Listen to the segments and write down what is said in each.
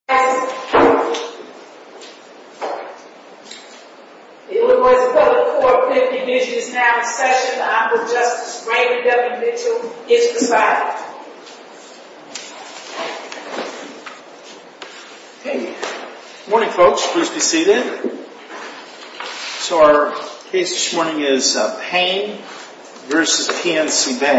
Bank, PNC Bank, PNC Bank, PNC Bank, National Ass'n Bank, PNC Bank, PNC Bank, PNC Bank, PNC Bank, PNC Bank, National Ass'n Bank, PNC Bank, PNC Bank, PNC Bank, PNC Bank, PNC Bank, PNC Bank, PNC Bank, National Ass'n Bank, PNC Bank, PNC Bank, PNC Bank, PNC Bank,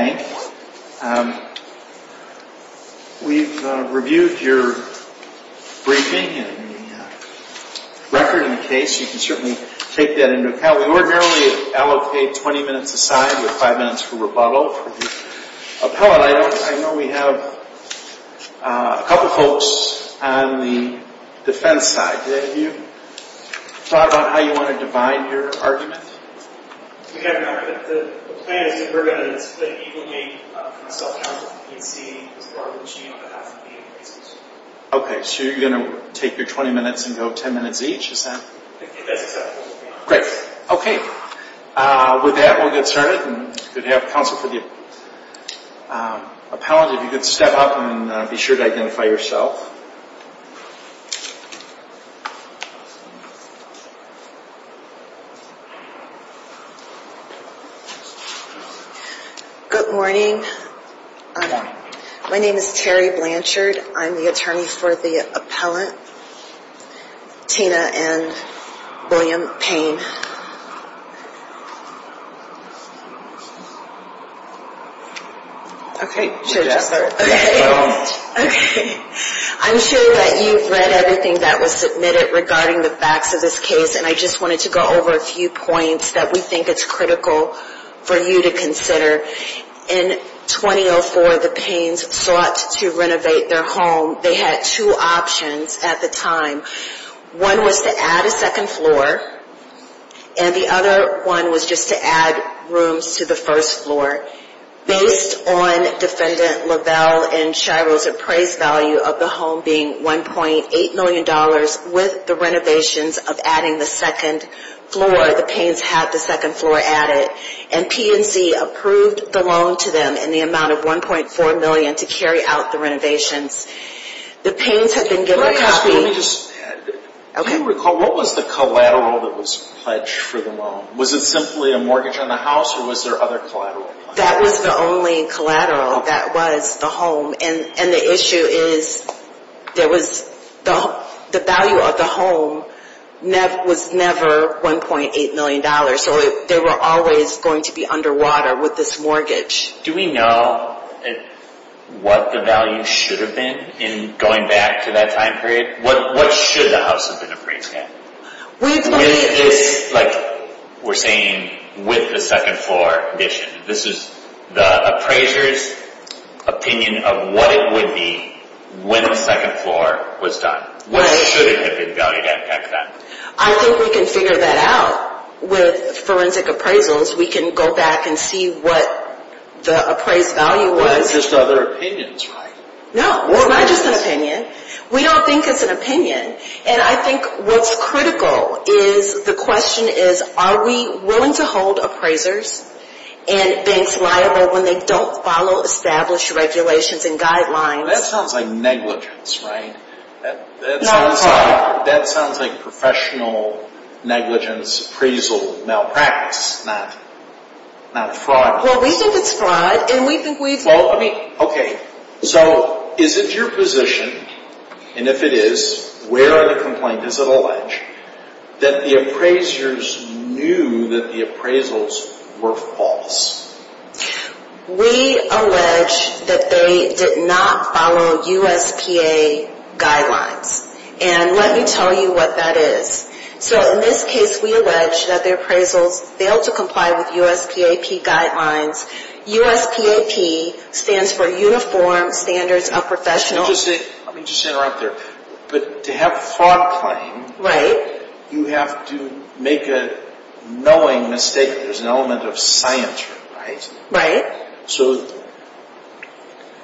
Tina and William Payne. Okay, I'm sure that you've read everything that was submitted regarding the facts of this case, and I just want to go over a few points that we think are critical for you to consider. In 2004, the Paynes sought to renovate their home. They had two options at the time. One was to add a second floor, and the other one was just to add rooms to the first floor. Based on Defendant Lovell and Shriver's appraised value of the home being $1.8 million, with the renovations of adding the second floor, the Paynes had the second floor added, and the C&C approved the loan to them in the amount of $1.4 million to carry out the renovations. The Paynes had been getting a copy... Do you recall what was the collateral that was pledged for the loan? Was it simply a mortgage on the house, or was there other collateral? That was the only collateral. That was the home, and the issue is the value of the home was never $1.8 million. So they were always going to be underwater with this mortgage. Do we know what the value should have been in going back to that time period? What should the house have been appraised at? Like we're saying, with the second floor addition. This is the appraiser's opinion of what it would be when the second floor was done. When should it have been done? I think we can figure that out with forensic appraisers. We can go back and see what the appraised value was. That's just other opinions, right? No, we're not just an opinion. We don't think it's an opinion, and I think what's critical is the question is, are we willing to hold appraisers and banks liable when they don't follow established regulations and guidelines? That sounds like negligence, right? That sounds like professional negligence, appraisal malpractice, not fraud. Well, we think it's fraud, and we think we've... Okay, so is it your position, and if it is, where are the complaints? Is it alleged that the appraisers knew that the appraisals were false? We allege that they did not follow USPAP guidelines, and let me tell you what that is. So in this case, we allege that the appraisal failed to comply with USPAP guidelines. USPAP stands for Uniform Standards of Professionals. Let me just interrupt there. But to have fraud claim, you have to make a knowing mistake. There's an element of scientry, right? So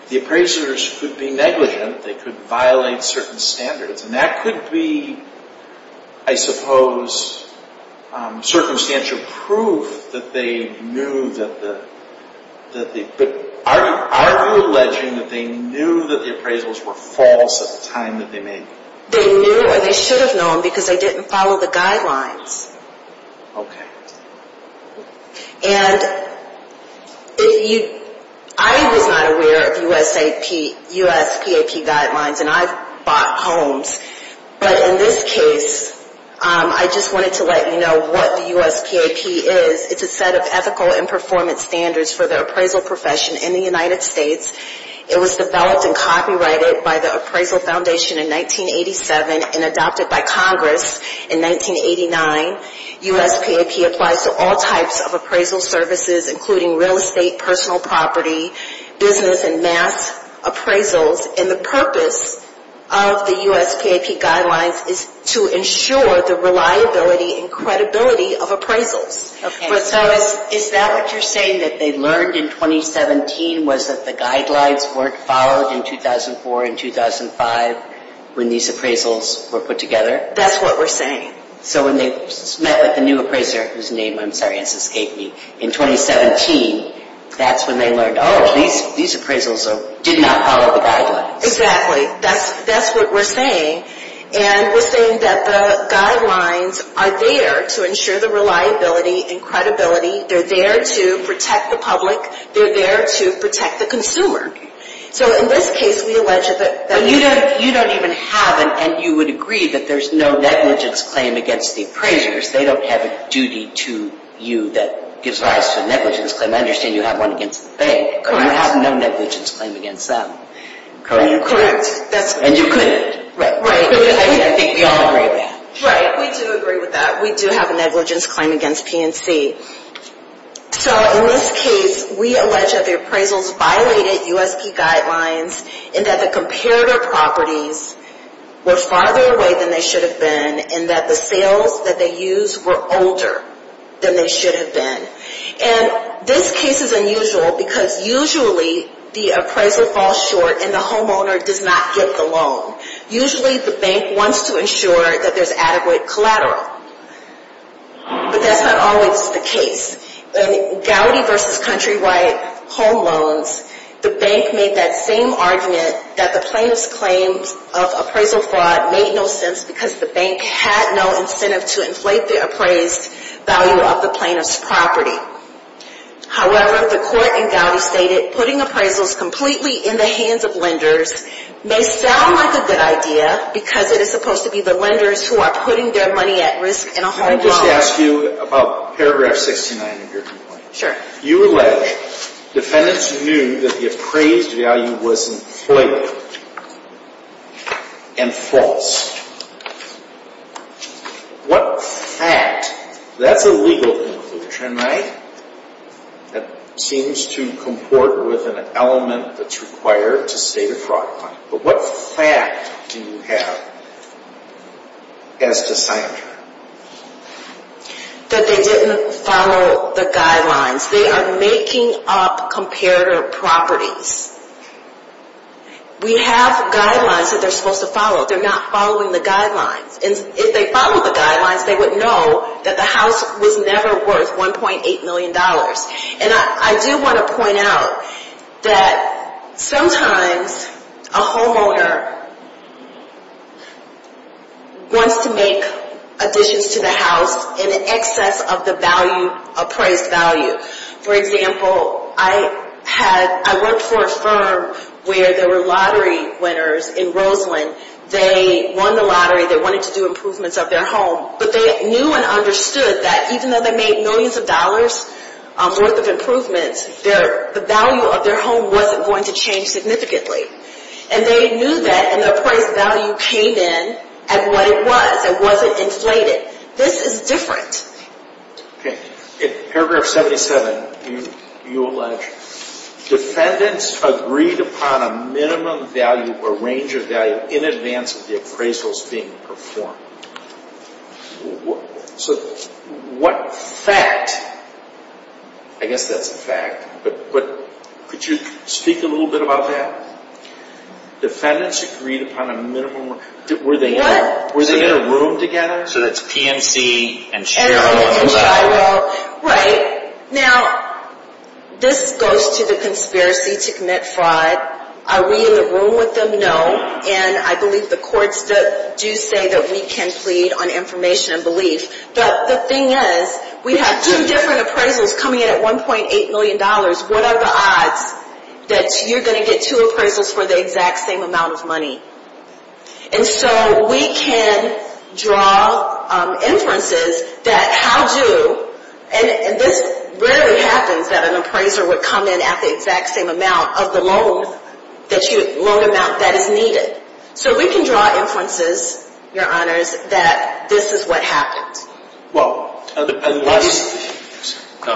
the appraisers could be negligent. They could violate certain standards, and that could be, I suppose, circumstantial proof that they knew that the... But are you alleging that they knew that the appraisals were false at the time that they made them? They knew, or they should have known, because they didn't follow the guidelines. Okay. And I was not aware of USPAP guidelines, and I bought homes. But in this case, I just wanted to let you know what the USPAP is. It's a set of ethical and performance standards for the appraisal profession in the United States. It was developed and copyrighted by the Appraisal Foundation in 1987 and adopted by Congress in 1989. USPAP applies to all types of appraisal services, including real estate, personal property, business, and mass appraisals. And the purpose of the USPAP guidelines is to ensure the reliability and credibility of appraisals. Okay. So is that what you're saying, that they learned in 2017 was that the guidelines weren't followed in 2004 and 2005 when these appraisals were put together? That's what we're saying. So when they met with the new appraiser, whose name, I'm sorry, answers KP, in 2017, that's when they learned, oh, these appraisals did not follow the guidelines. Exactly. That's what we're saying. And we're saying that the guidelines are there to ensure the reliability and credibility. They're there to protect the public. They're there to protect the consumer. So in this case, we alleged that you don't even have, and you would agree that there's no negligence claim against the appraisers. They don't have a duty to you that gives rise to a negligence claim. I understand you have one against the bank, but you have no negligence claim against them. Correct? Correct. And you agree with that. Right. We all agree with that. Right. We do agree with that. We do have a negligence claim against P&C. So in this case, we allege that the appraisals violated USP guidelines, and that the comparator properties were farther away than they should have been, and that the sales that they used were older than they should have been. And this case is unusual because usually the appraisal falls short, and the homeowner does not get the loan. Usually the bank wants to ensure that there's adequate collateral. But that's not always the case. In Gowdy v. Countrywide home loans, the bank made that same argument that the plaintiff's claim of appraisal fraud made no sense because the bank had no incentive to inflate the appraised value of the plaintiff's property. However, the court in Gowdy stated, putting appraisals completely in the hands of lenders may sound like a good idea because it is supposed to be the lenders who are putting their money at risk in a home loan. I'd like to ask you about paragraph 69 of your complaint. Sure. You alleged defendants knew that the appraised value was inflated and false. What facts? That's a legal conclusion, right? That seems to comport with an element that's required to state a fraud claim. But what facts do you have as to scientific evidence? That they didn't follow the guidelines. They are making up comparative properties. We have guidelines that they're supposed to follow. They're not following the guidelines. And if they followed the guidelines, they would know that the house was never worth $1.8 million. And I do want to point out that sometimes a homeowner wants to make additions to the house in excess of the value, appraised value. For example, I worked for a firm where there were lottery winners in Roseland. They won the lottery. They wanted to do improvements of their home. But they knew and understood that even though they made millions of dollars worth of improvements, the value of their home wasn't going to change significantly. And they knew that, and the appraised value came in at what it was. It wasn't inflated. This is different. Okay. In paragraph 77, you allege defendants agreed upon a minimum value or range of value in advance of the appraisals being performed. So what fact? I guess that's a fact. But could you speak a little bit about that? Defendants agreed upon a minimum. Were they in a room together? So that's PMC and Cheryl. Right. Now, this goes to the conspiracy to commit fraud. Are we in a room with them? No. And I believe the courts do say that we can't plead on information and belief. But the thing is, we have two different appraisals coming in at $1.8 million. What are the odds that you're going to get two appraisals for the exact same amount of money? And so we can draw inferences that how do, and this rarely happens, that an appraiser would come in at the exact same amount of the loan amount that is needed. So we can draw inferences, Your Honors, that this is what happened. Well, I'm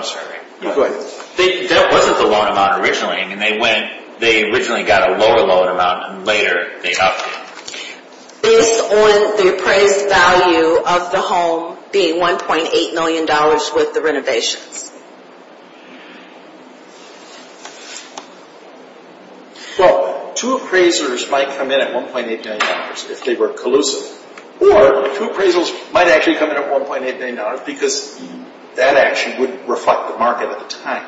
sorry. Go ahead. This wasn't the loan amount originally. I mean, they went, they originally got a lower loan amount, and later they upped it. Based on the appraised value of the home being $1.8 million with the renovation. So two appraisers might come in at $1.8 million if they were collusive. Or two appraisals might actually come in at $1.8 million because that action would reflect the market at the time.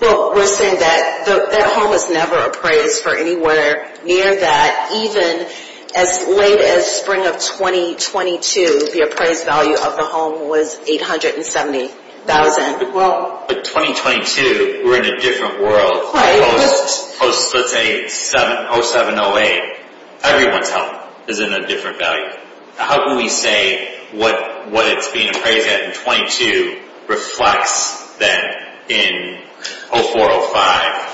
Well, we're saying that that home was never appraised for anywhere near that. Even as late as spring of 2022, the appraised value of the home was $870,000. Well, it's 2022. We're in a different world. Let's say 07-08. Everyone's home is in a different value. How can we say what it's being appraised at in 22 reflects that in 04-05?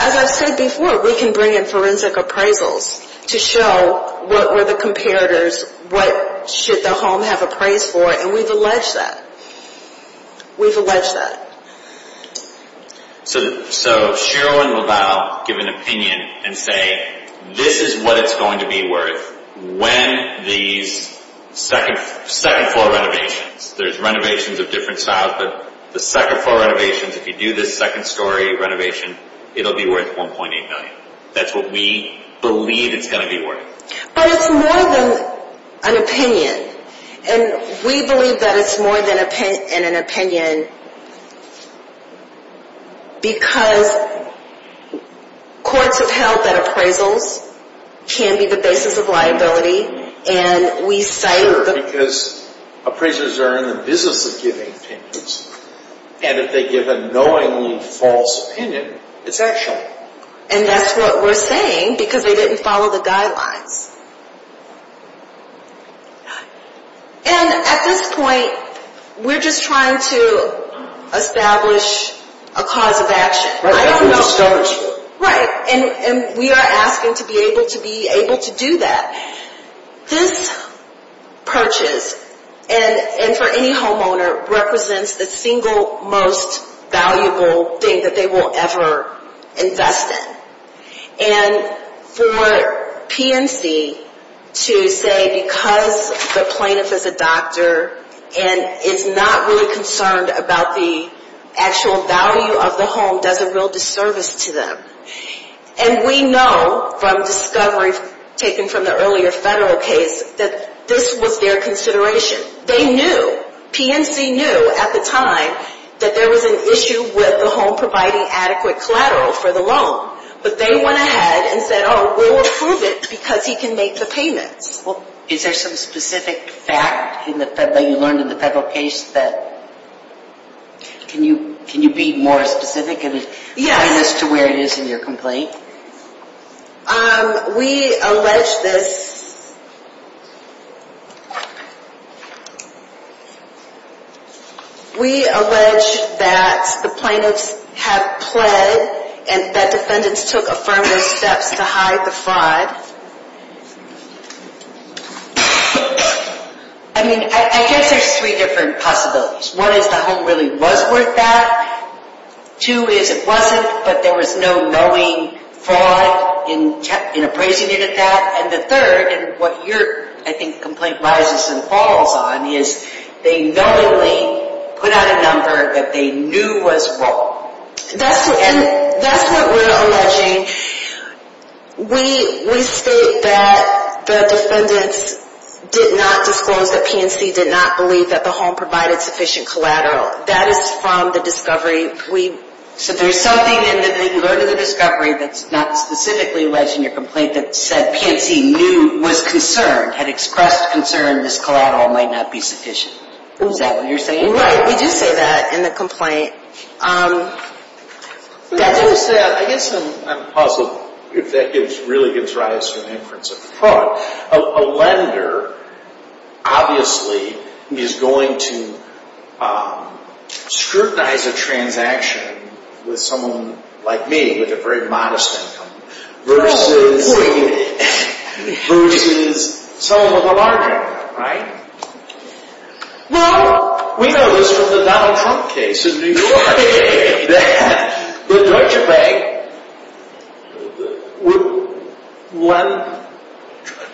As I said before, we can bring in forensic appraisals to show what were the comparators, what should the home have appraised for, and we've alleged that. We've alleged that. So Sheryl and LaValle give an opinion and say, this is what it's going to be worth when the second-floor renovations, there's renovations of different styles, but the second-floor renovations, if you do this second-story renovation, it'll be worth $1.8 million. That's what we believe it's going to be worth. But it's more than an opinion. And we believe that it's more than an opinion because courts have held that appraisals can be the basis of liability, and we say Sure, because appraisers are in the business of giving opinions, and if they give a knowingly false opinion, it's actual. And that's what we're saying because they didn't follow the guidelines. And at this point, we're just trying to establish a cause of action, right? Right. And we are asking to be able to do that. This purchase, and for any homeowner, represents the single most valuable thing that they will ever invest in. And for PNC to say, because the plaintiff is a doctor and is not really concerned about the actual value of the home, does a real disservice to them. And we know from discoveries taken from the earlier federal case that this was their consideration. They knew. PNC knew at the time that there was an issue with the home providing adequate collateral for the loan. But they went ahead and said, Oh, we'll approve it because he can make the payment. Well, is there some specific facts that you learned in the federal case that can you be more specific as to where it is in your complaint? We allege this. We allege that the plaintiffs have pled and that defendants took affirmative steps to hide the fraud. I mean, I guess there's three different possibilities. One is the home really was worth that. Two is it wasn't, but there was no knowing fraud in appraising it as that. And the third, and what your, I think, complaint lies and falls on, is they knowingly put out a number that they knew was wrong. And that's what we're alleging. We state that the defendants did not disclose that PNC did not believe that the home provided sufficient collateral. That is from the discovery. There's something in the discovery that's not specifically alleged in your complaint that said PNC knew, was concerned, had expressed concern this collateral might not be sufficient. Is that what you're saying? Yes, we do say that in the complaint. I'm positive that really gives rise to an inference of fraud. A lender, obviously, is going to scrutinize a transaction with someone like me, with a very modest income, versus some of what aren't, right? We know this was a Donald Trump case. It was a case that was registered with Len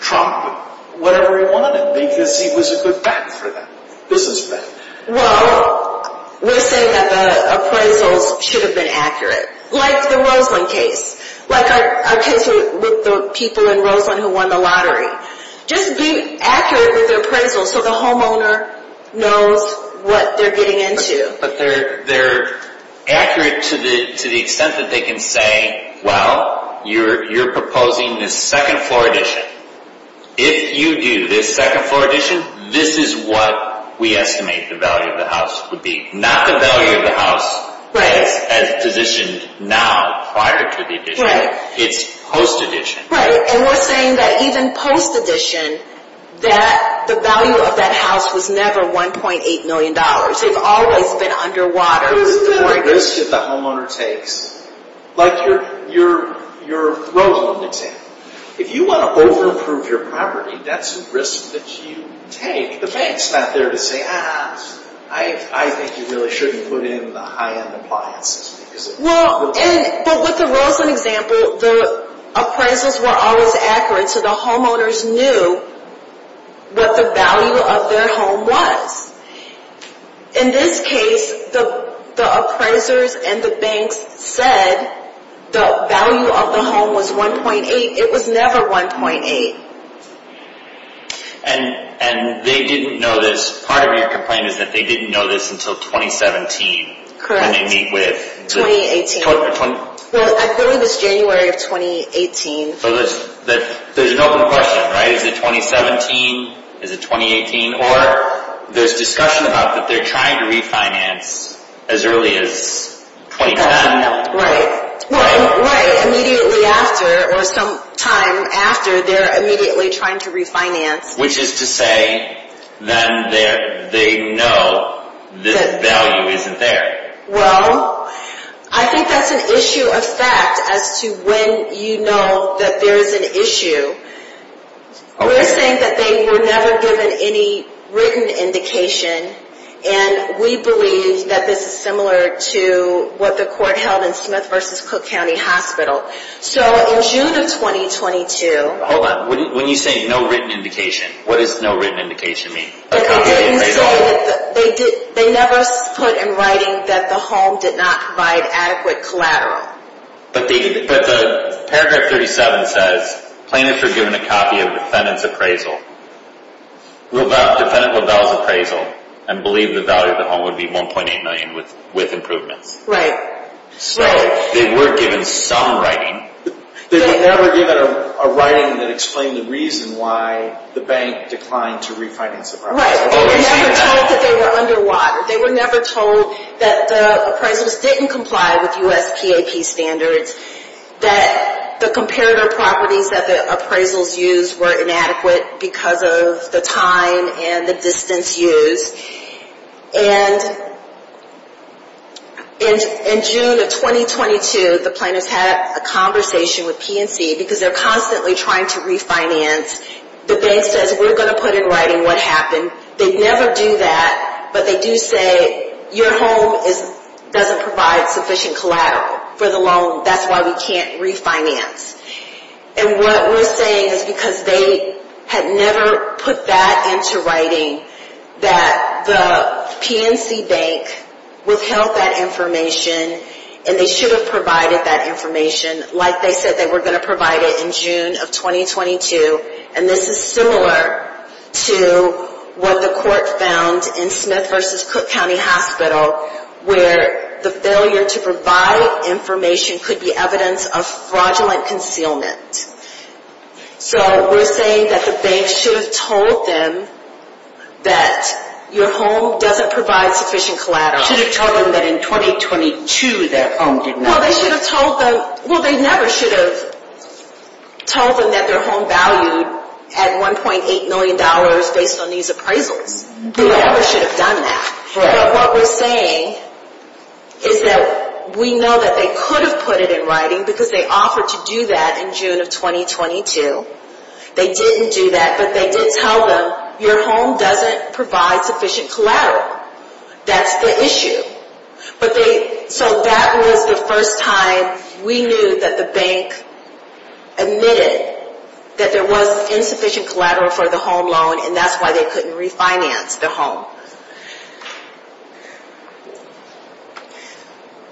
Trump, whatever he wanted to be, because he was a good business man. Well, we're saying that appraisal should have been accurate, like the Roseland case, like our case with the people in Roseland who won the lottery. Just being accurate is appraisal, so the homeowner knows what they're getting into. But they're accurate to the extent that they can say, well, you're proposing this second floor addition. If you do this second floor addition, this is what we estimate the value of the house would be. Not the value of the house as additions now, prior to the addition. It's post-addition. Right, and we're saying that even post-addition, that the value of that house was never $1.8 million. It's always been underwater. It's the risk that the homeowner takes. Like your Roseland case. If you want to over-improve your property, that's a risk that you take. The bank's not there to say, ah, I think you really shouldn't put in the high-end appliances. Well, with the Roseland example, the appraisals were always accurate, so the homeowners knew what the value of their home was. In this case, the appraisers and the bank said the value of the home was $1.8. It was never $1.8. And they didn't know this. Part of your complaint is that they didn't know this until 2017. When they meet with the- 2018. Well, I put in this January of 2018. So there's an open question, right? Is it 2017? Is it 2018? Or there's discussion about that they're trying to refinance as early as 2010. Right. Well, right, immediately after, or some time after, they're immediately trying to refinance. Which is to say that they know this value isn't there. Well, I think that's an issue of fact as to when you know that there's an issue. We're saying that they were never given any written indication, and we believe that this is similar to what the court held in Smith v. Cook County Hospital. So in June of 2022- Hold on. When you say no written indication, what does no written indication mean? They never put in writing that the home did not provide adequate collateral. But the paragraph 37 says plaintiffs were given a copy of the defendant's appraisal. The defendant would have the appraisal and believe the value of the home would be $1.8 million with improvement. Right. So they were given some writing. They were never given a writing that explained the reason why the bank declined to refinance the property. Right. They were never told that they were under water. They were never told that the appraisals didn't comply with U.S. PAT standards, that the comparative properties that the appraisals used were inadequate because of the time and the distance used. And in June of 2022, the plaintiffs had a conversation with PNC because they're constantly trying to refinance. The bank says, we're going to put in writing what happened. They never do that, but they do say your home doesn't provide sufficient collateral for the loan. That's why we can't refinance. And what we're saying is because they had never put that into writing, that the PNC bank would tell that information and they should have provided that information like they said they were going to provide it in June of 2022. And this is similar to what the court found in Smith v. Cook County Hospital, where the failure to provide information could be evidence of fraudulent concealment. So we're saying that the bank should have told them that your home doesn't provide sufficient collateral. They should have told them that in 2022 their home did not. No, they should have told them. Well, they never should have told them that their home value had $1.8 million based on these appraisals. They never should have done that. So what we're saying is that we know that they could have put it in writing because they offered to do that in June of 2022. They didn't do that, but they did tell them your home doesn't provide sufficient collateral. That's the issue. So that was the first time we knew that the bank admitted that there was insufficient collateral for the home loan, and that's why they couldn't refinance the home.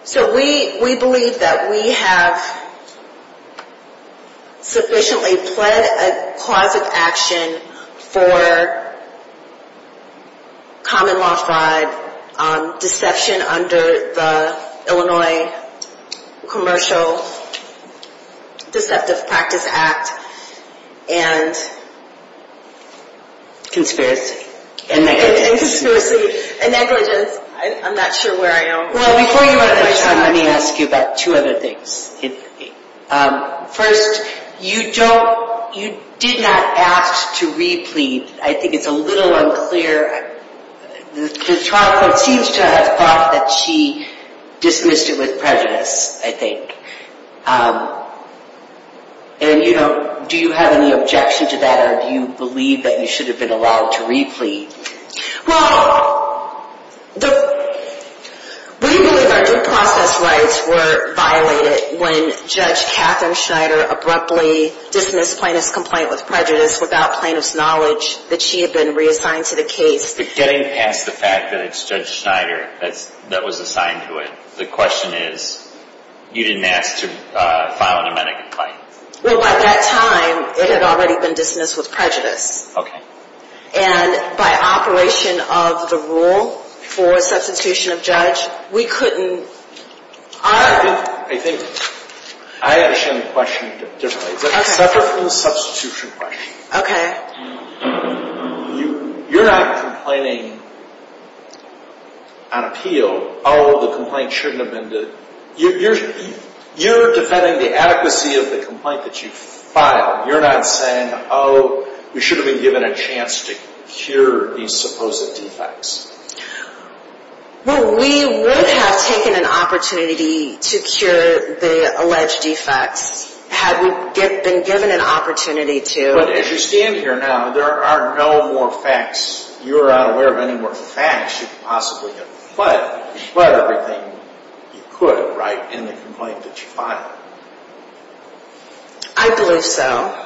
So we believe that we have sufficiently pled a cause of action for common law fraud, deception under the Illinois Commercial Deceptive Practice Act, and conspiracy. Conspiracy. And negligence. I'm not sure where I am. Well, before you go next time, let me ask you about two other things. First, you did not ask to re-plead. I think it's a little unclear. Ms. Tromko seems to have thought that she dismissed it with prejudice, I think. And, you know, do you have any objection to that, or do you believe that you should have been allowed to re-plead? Well, we knew that our due process rights were violated when Judge Katherine Schneider abruptly dismissed Plaintiff's complaint with prejudice without Plaintiff's knowledge that she had been reassigned to the case. But getting past the fact that it's Judge Schneider that was assigned to it, the question is you didn't ask to file a nomenic complaint. Well, by that time, it had already been dismissed with prejudice. Okay. And by operation of the rule for substitution of judge, we couldn't... I think I got to send a question just like this. Okay. Substitution question. Okay. You're not complaining on appeal, oh, the complaint shouldn't have been dismissed. You're defending the adequacy of the complaint that you filed. You're not saying, oh, you should have been given a chance to cure these supposed defects. Well, we would have taken an opportunity to cure the alleged defects had we been given an opportunity to. But as you stand here now, there are no more facts. You're not aware of any more facts you could possibly have. But you spread everything you could, right, in the complaint that you filed. I believe so.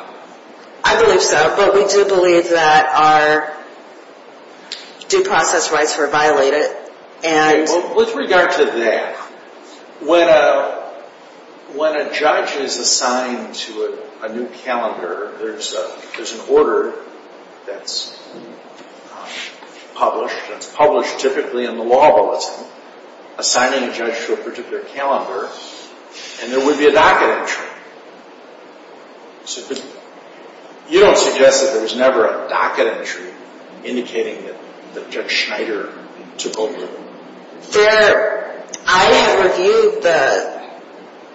I believe so, but we do believe that our due process rights were violated, and... Well, with regard to that, when a judge is assigned to a new calendar, there's an order that's published. It's published typically in the law that's assigning a judge to a particular calendar. And there would be a docket entry. You don't suggest that there was never a docket entry indicating that Judge Schneider took over. Fair. I have reviewed the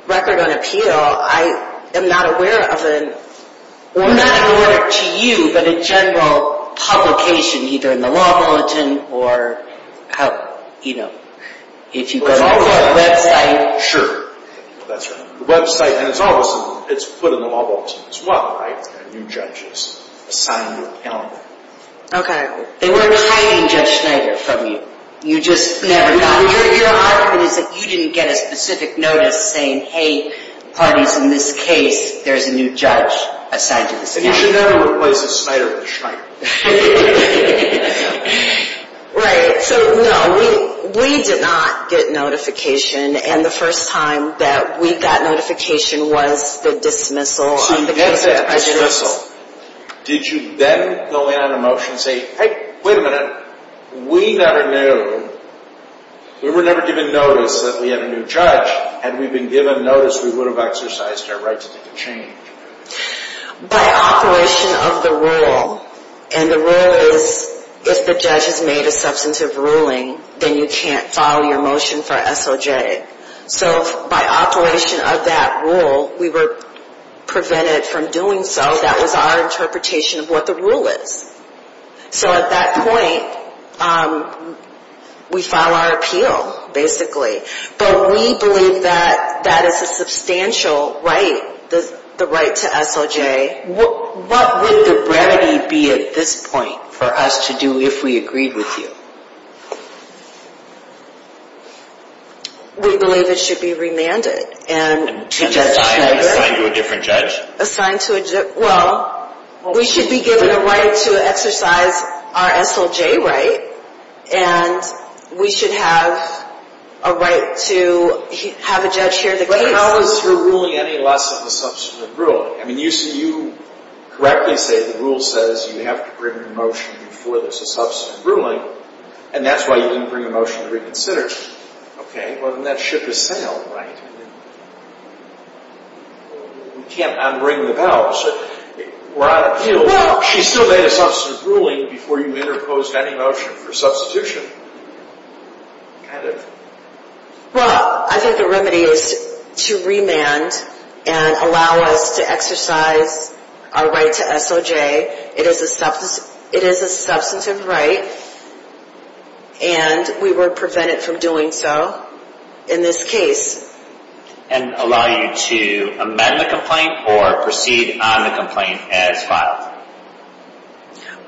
record on appeal. I am not aware of it. I'm not aware to you that in general publication, either in the law bulletin or, you know, if you go to... Sure. That's right. The website has all of them. It's put in the law bulletin. It's blocked by a new judge's assignment calendar. They wouldn't assign any Judge Schneider from you. You just never got... Your argument is that you didn't get a specific notice saying, hey, pardon me, in this case, there's a new judge assigned to this calendar. And you should know it wasn't Schneider that was trying to do it. Right. No, we did not get notification. And the first time that we got notification was the dismissal. She gets that dismissal. Did you then fill out a motion saying, hey, wait a minute, we never knew. We were never given notice that we had a new judge. Had we been given notice, we would have exercised our right to change. By operation of the rule. And the rule is, if the judge has made a substantive ruling, then you can't file your motion for SOJ. So by operation of that rule, we were prevented from doing so. That was our interpretation of what the rule is. So at that point, we filed our appeal, basically. But we believe that that is a substantial right, the right to SOJ. Okay. What would the remedy be at this point for us to do if we agreed with you? We believe it should be remanded. Assigned to a different judge? Assigned to a different judge. Well, we should be given a right to exercise our SOJ right. And we should have a right to have a judge hear the case. But it's not through ruling and philosophy of a substantive ruling. I mean, you correctly say the rule says you have to bring a motion before there's a substantive ruling. And that's why you didn't bring a motion to reconsider. Okay. Well, then that ship has sailed, right? We can't unbring the bow. Well, she still made a substantive ruling before you interposed that motion for substitution. Okay. Well, I think the remedy is to remand and allow us to exercise our right to SOJ. It is a substantive right, and we were prevented from doing so in this case. And allow you to amend the complaint or proceed on the complaint as filed?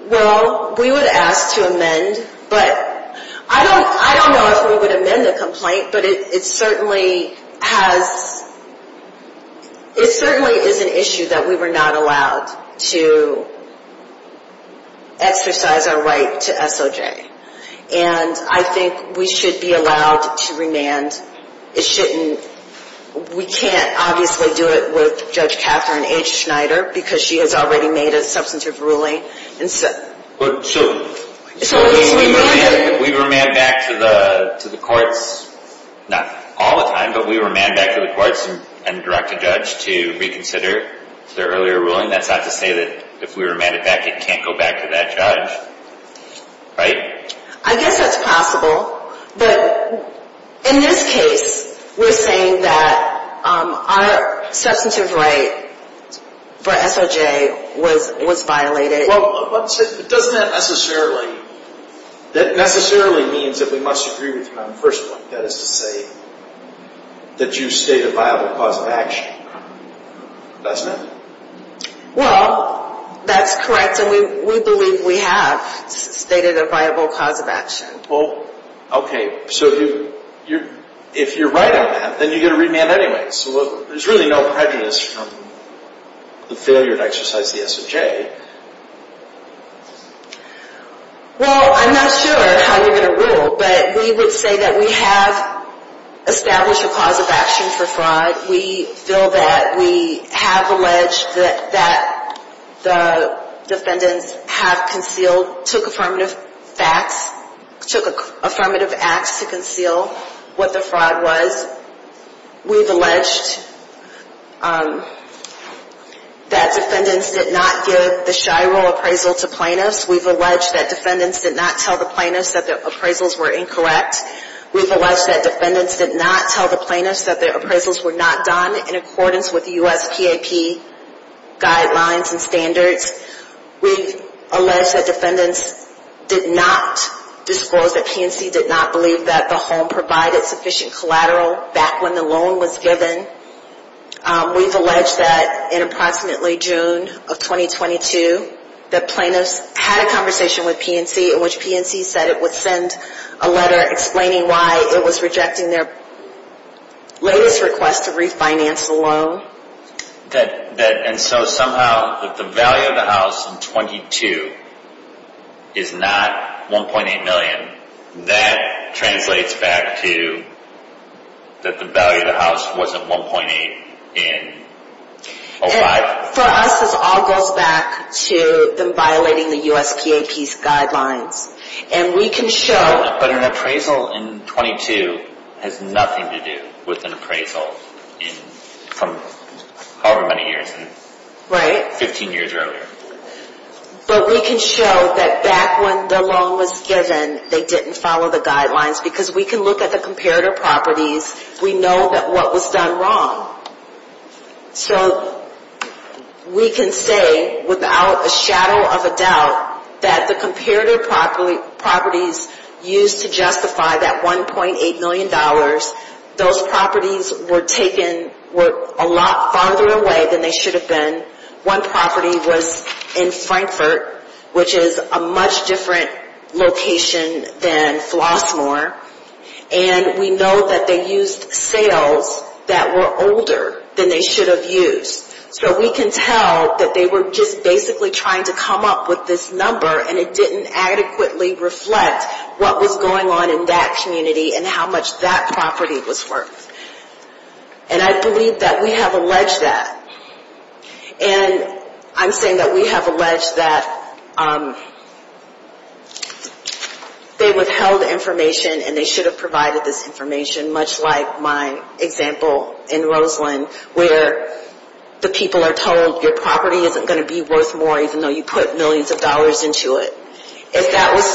Well, we would ask to amend, but I don't know if we would amend the complaint, but it certainly is an issue that we were not allowed to exercise our right to SOJ. And I think we should be allowed to remand. We can't, obviously, do it with Judge Katherine H. Schneider because she has already made a substantive ruling. So, we remand back to the courts, not all the time, but we remand back to the courts and direct the judge to reconsider their earlier ruling? That's not to say that if we remand it back, it can't go back to that judge, right? I guess that's possible. But in this case, we're saying that our substantive right for SOJ was violated. Well, doesn't that necessarily mean that we must agree with you on a personal basis and say that you stated a viable cause of action? Doesn't it? Well, that's correct, and we believe we have stated a viable cause of action. Well, okay. So, if you're right on that, then you're going to remand anyway. So, there's really no prejudice on the failure to exercise the SOJ. Well, I'm not sure how we're going to rule, but we would say that we have established a cause of action for fraud. We feel that we have alleged that the defendants have concealed, took affirmative acts to conceal what the fraud was. We've alleged that defendants did not give the Shiloh appraisal to plaintiffs. We've alleged that defendants did not tell the plaintiffs that the appraisals were incorrect. We've alleged that defendants did not tell the plaintiffs that the appraisals were not done in accordance with U.S. TAP guidelines and standards. We've alleged that defendants did not disclose that PNC did not believe that the home provided sufficient collateral back when the loan was given. We've alleged that in approximately June of 2022, the plaintiffs had a conversation with PNC in which PNC said it would send a letter explaining why it was rejecting their latest request to refinance the loan. And so, somehow, that the value of the house in 22 is not $1.8 million, that translates back to that the value of the house wasn't $1.8 in 05? For us, this all goes back to them violating the U.S. TAP guidelines. And we can show... But an appraisal in 22 has nothing to do with an appraisal in however many years. Right. 15 years earlier. But we can show that back when the loan was given, they didn't follow the guidelines because we can look at the comparator properties. We know that what was done wrong. So, we can say without a shadow of a doubt that the comparator properties used to justify that $1.8 million, those properties were taken a lot farther away than they should have been. One property was in Frankfort, which is a much different location than Flossmoor. And we know that they used sales that were older than they should have used. So, we can tell that they were just basically trying to come up with this number and it didn't adequately reflect what was going on in that community and how much that property was worth. And I believe that we have alleged that. And I'm saying that we have alleged that they withheld information and they should have provided this information much like my example in Roseland where the people are told your property isn't going to be worth more even though you put millions of dollars into it. If that was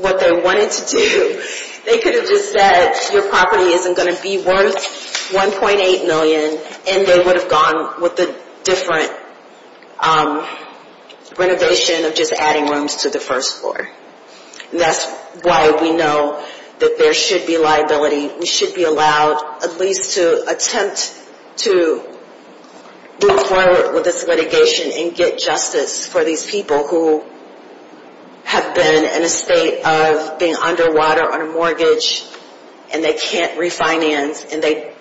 what they wanted to do, they could have just said your property isn't going to be worth $1.8 million and they would have gone with a different renovation of just adding rooms to the first floor. And that's why we know that there should be liability. We should be allowed at least to attempt to move forward with this litigation and get justice for these people who have been in a state of being underwater on a mortgage and they can't refinance and they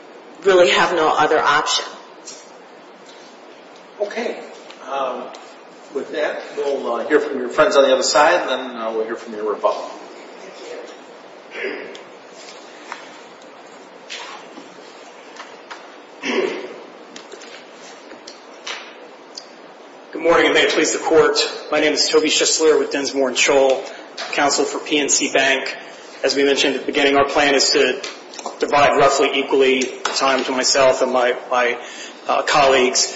really have no other option. Okay. With that, we'll hear from your friends on the other side and we'll hear from your rebuttal. Good morning and thanks for coming to court. My name is Toby Shisler with Densmore & Scholl, Counsel for P&T Bank. As we mentioned at the beginning, our plan is to divide roughly equally the time for myself and my colleagues.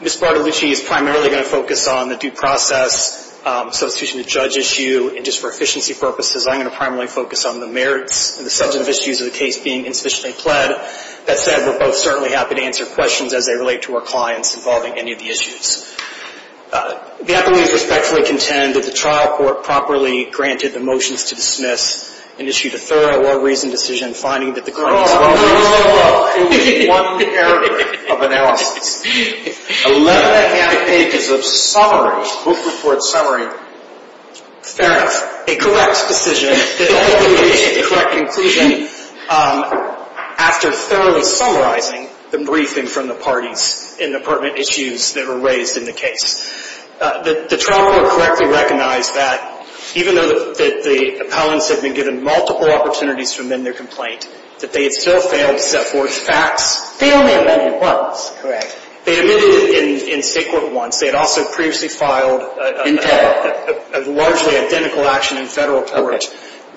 Ms. Bartolucci is primarily going to focus on the due process, substitution of judge issue, and just for efficiency purposes, I'm going to primarily focus on the merits and the subject issues of the case being sufficiently fled. That said, we're both certainly happy to answer questions as they relate to our clients involving any of the issues. Again, we respectfully contend that the trial court properly granted the motions to dismiss and issued a thorough well-reasoned decision finding that the current... Oh, no, no, no, no, no, no, no. ...of analysis, 11 and a half pages of summaries, book report summary, found a correct decision, a correct conclusion after thoroughly summarizing the briefing from the parties in the department issues that were raised in the case. The trial court correctly recognized that even though the appellants had been given multiple opportunities to amend their complaint, that they had still failed to step forward to act. They don't have that in court. Correct. They did it in state court once. They had also previously filed a largely identical action in federal court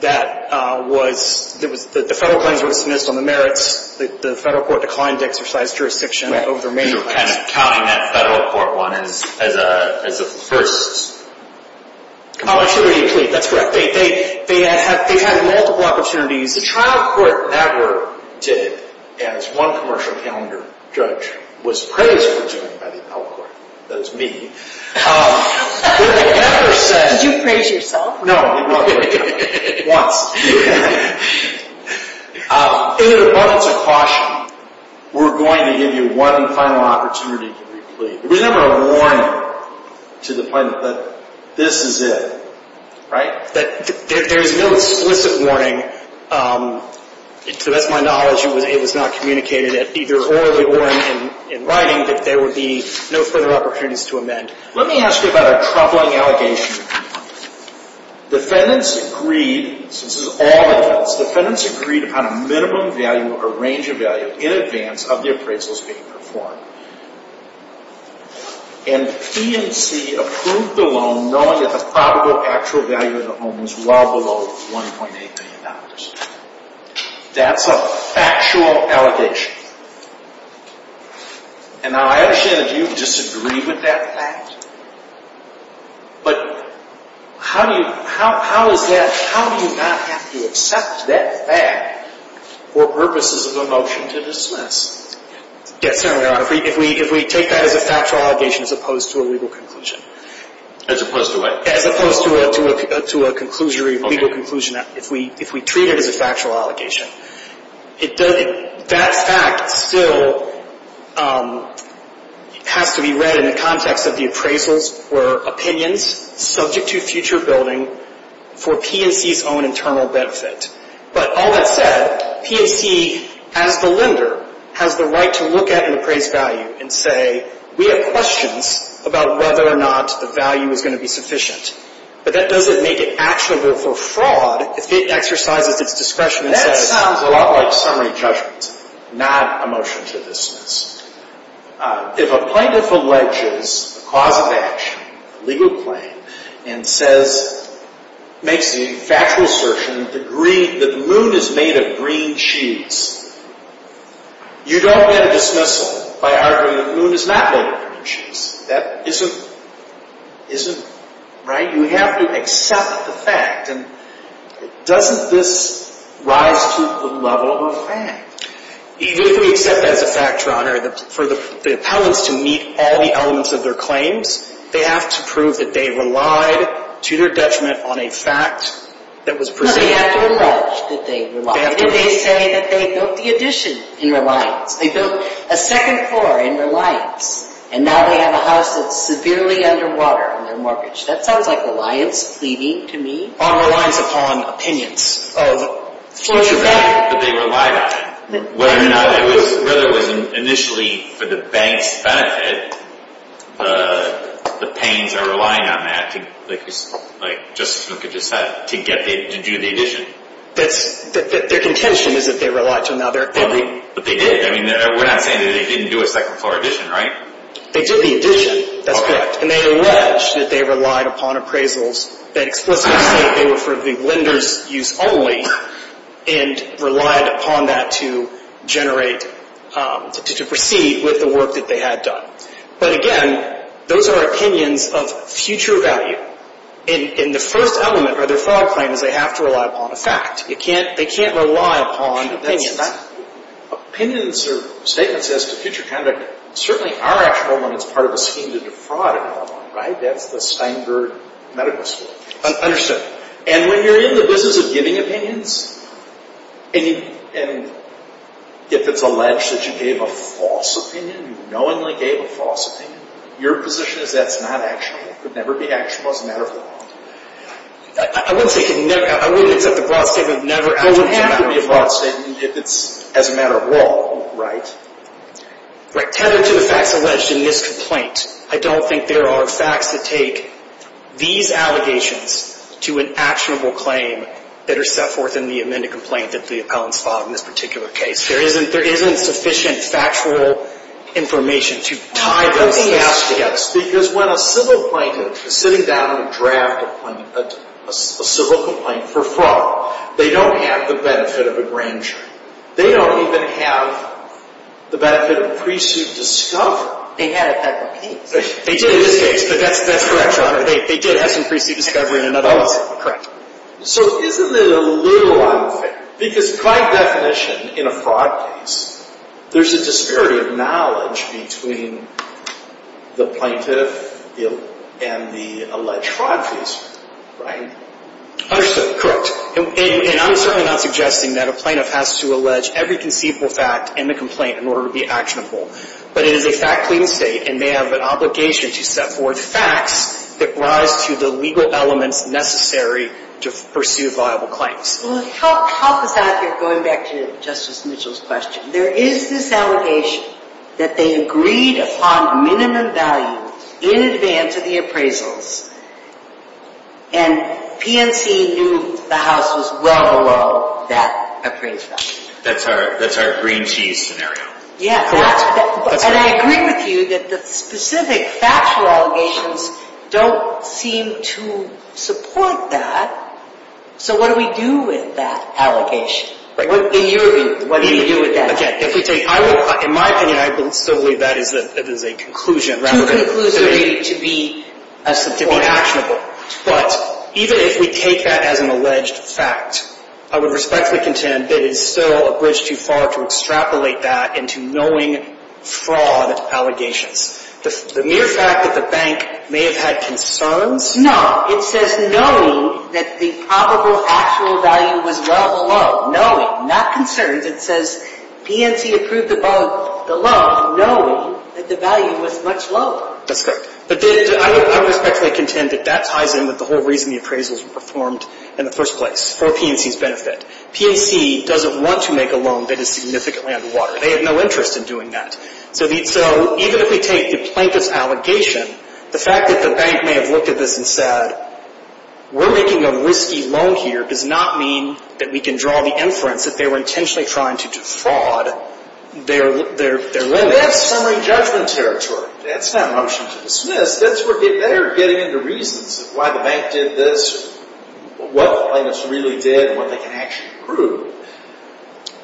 that the federal claims were dismissed on the merits. The federal court declined to exercise jurisdiction over their merits. You're kind of touting that federal court one as the first. Oh, sure, that's correct. They had multiple opportunities. The trial court never did it. As one commercial calendar judge was praised for doing it by the appellate court. That's me. Did you praise yourself? No. Yeah. In regards to caution, we're going to give you one final opportunity to re-complete. We have a warning to the plaintiff that this is it, right? That there is no explicit warning. To my knowledge, it was not communicated as either or as a warning in writing that there would be no further opportunities to amend. Let me ask you about a troubling allegation. Defendants agreed to find a minimum value or range of value in advance of the appraisals being performed. And P&C approved the loan knowing that the probable actual value of the loan was well below $1.8 million. That's a factual allegation. And I actually, as you, disagree with that fact. But how do you not have to accept that fact for purposes of a motion to dismiss? Yes, Your Honor, if we take that as a factual allegation as opposed to a legal conclusion. As opposed to what? As opposed to a conclusion or a legal conclusion. If we treat it as a factual allegation. That fact still has to be read in the context of the appraisals or opinions subject to future building for P&C's own internal benefit. But all that said, P&C, as the lender, has the right to look at an appraised value and say, we have questions about whether or not the value is going to be sufficient. But that doesn't make it actionable for fraud if it exercised its discretion. That sounds a lot like summary judgment, not a motion to dismiss. If a plaintiff alleges a cause of action, legal claim, and makes the factual assertion that the moon is made of green cheese, you don't get a dismissal by arguing that the moon is not made of green cheese. That isn't right. You have to accept the fact. And doesn't this rise to the level of a fact? Even if we set that as a factor, Your Honor, for the appellant to meet all the elements of their claims, they have to prove that they relied, to their judgment, on a fact that was presented to them. No, they have to acknowledge that they relied. They have to prove it. They have to indicate that they built the addition in their life. They built a second floor in their life. And now they have a house that's severely under water on their mortgage. That sounds like reliance, to me. Reliance upon opinion. But they relied on it. Whether or not it was initially for the bank's benefit, the pain of relying on that, like Justice Lincoln just said, to get it and do the addition. But their intention is that they relied on their opinion. But they did. We're not saying that they didn't do a second floor addition, right? They did the addition. That's correct. And they allege that they relied upon appraisals that explicitly indicated they were for the lender's use only and relied upon that to proceed with the work that they had done. But, again, those are opinions of future value. And the first element of their fraud claim is they have to rely upon a fact. They can't rely upon opinion. Opinions are statements as to future conduct. Certainly our actual one is part of a scheme to do fraud in Illinois, right? That's the Steinberg Medical School. Understood. And when you're in the business of giving opinions, and if it's alleged that you gave a false opinion, you knowingly gave a false opinion, your position is that's not actionable. It could never be actionable as a matter of law. I wouldn't say it could never happen. I wouldn't say the broad statement would never happen. Well, it would have to be a broad statement if it's as a matter of law, right? Tender to the fact alleged in this complaint, I don't think there are facts that take these allegations to an actionable claim that are set forth in the amended complaint that's the appellant filed in this particular case. There isn't sufficient factual information to tie it all together. Well, yes, because when a civil complaint, if you're sitting down to draft a civil complaint for fraud, they don't have the benefit of a grand jury. They don't even have the benefit of priests who've discovered it. They had it at the meeting. That's correct. They did have some priests who discovered it in a vote. Correct. So isn't it illusory? Because by definition, in a fraud case, there's a discurrent of knowledge between the plaintiff and the alleged fraud case, right? Absolutely. Correct. And I'm certainly not suggesting that a plaintiff has to allege every conceivable fact in the complaint in order to be actionable. But it is a fact-clearing state, and they have an obligation to set forth facts that rise to the legal elements necessary to pursue viable claims. Well, to help us out here, going back to Justice Mitchell's question, there is this allegation that they agreed upon minimum value in advance of the appraisals, and PNC knew the House was well below that appraisal. That's our green-teeth scenario. Yes. And I agree with you that the specific factual allegations don't seem to support that. So what do we do with that allegation? What do you do with that? Again, in my opinion, I still believe that is a conclusion. The conclusion is to be actionable. But even if we take that as an alleged fact, I would respectfully contend that it is still a bridge too far to extrapolate that into knowing fraud allegations. The mere fact that the bank may have had concerns? No. It says knowing that the probable actual value was well below. No. Not concerned. It says PNC approved the loan knowing that the value was much lower. That's correct. But I would respectfully contend that that ties in with the whole reason the appraisals were performed in the first place, for PNC's benefit. PNC doesn't want to make a loan that is significantly under water. They have no interest in doing that. So even if we take the plaintiff's allegation, the fact that the bank may have looked at this and said, we're making a risky loan here does not mean that we can draw the inference that they were intentionally trying to defraud their loan. They have summary judgment territory. That's not a motion to dismiss. They are getting into reasons as to why the bank did this and what the plaintiffs really did and what they can actually prove.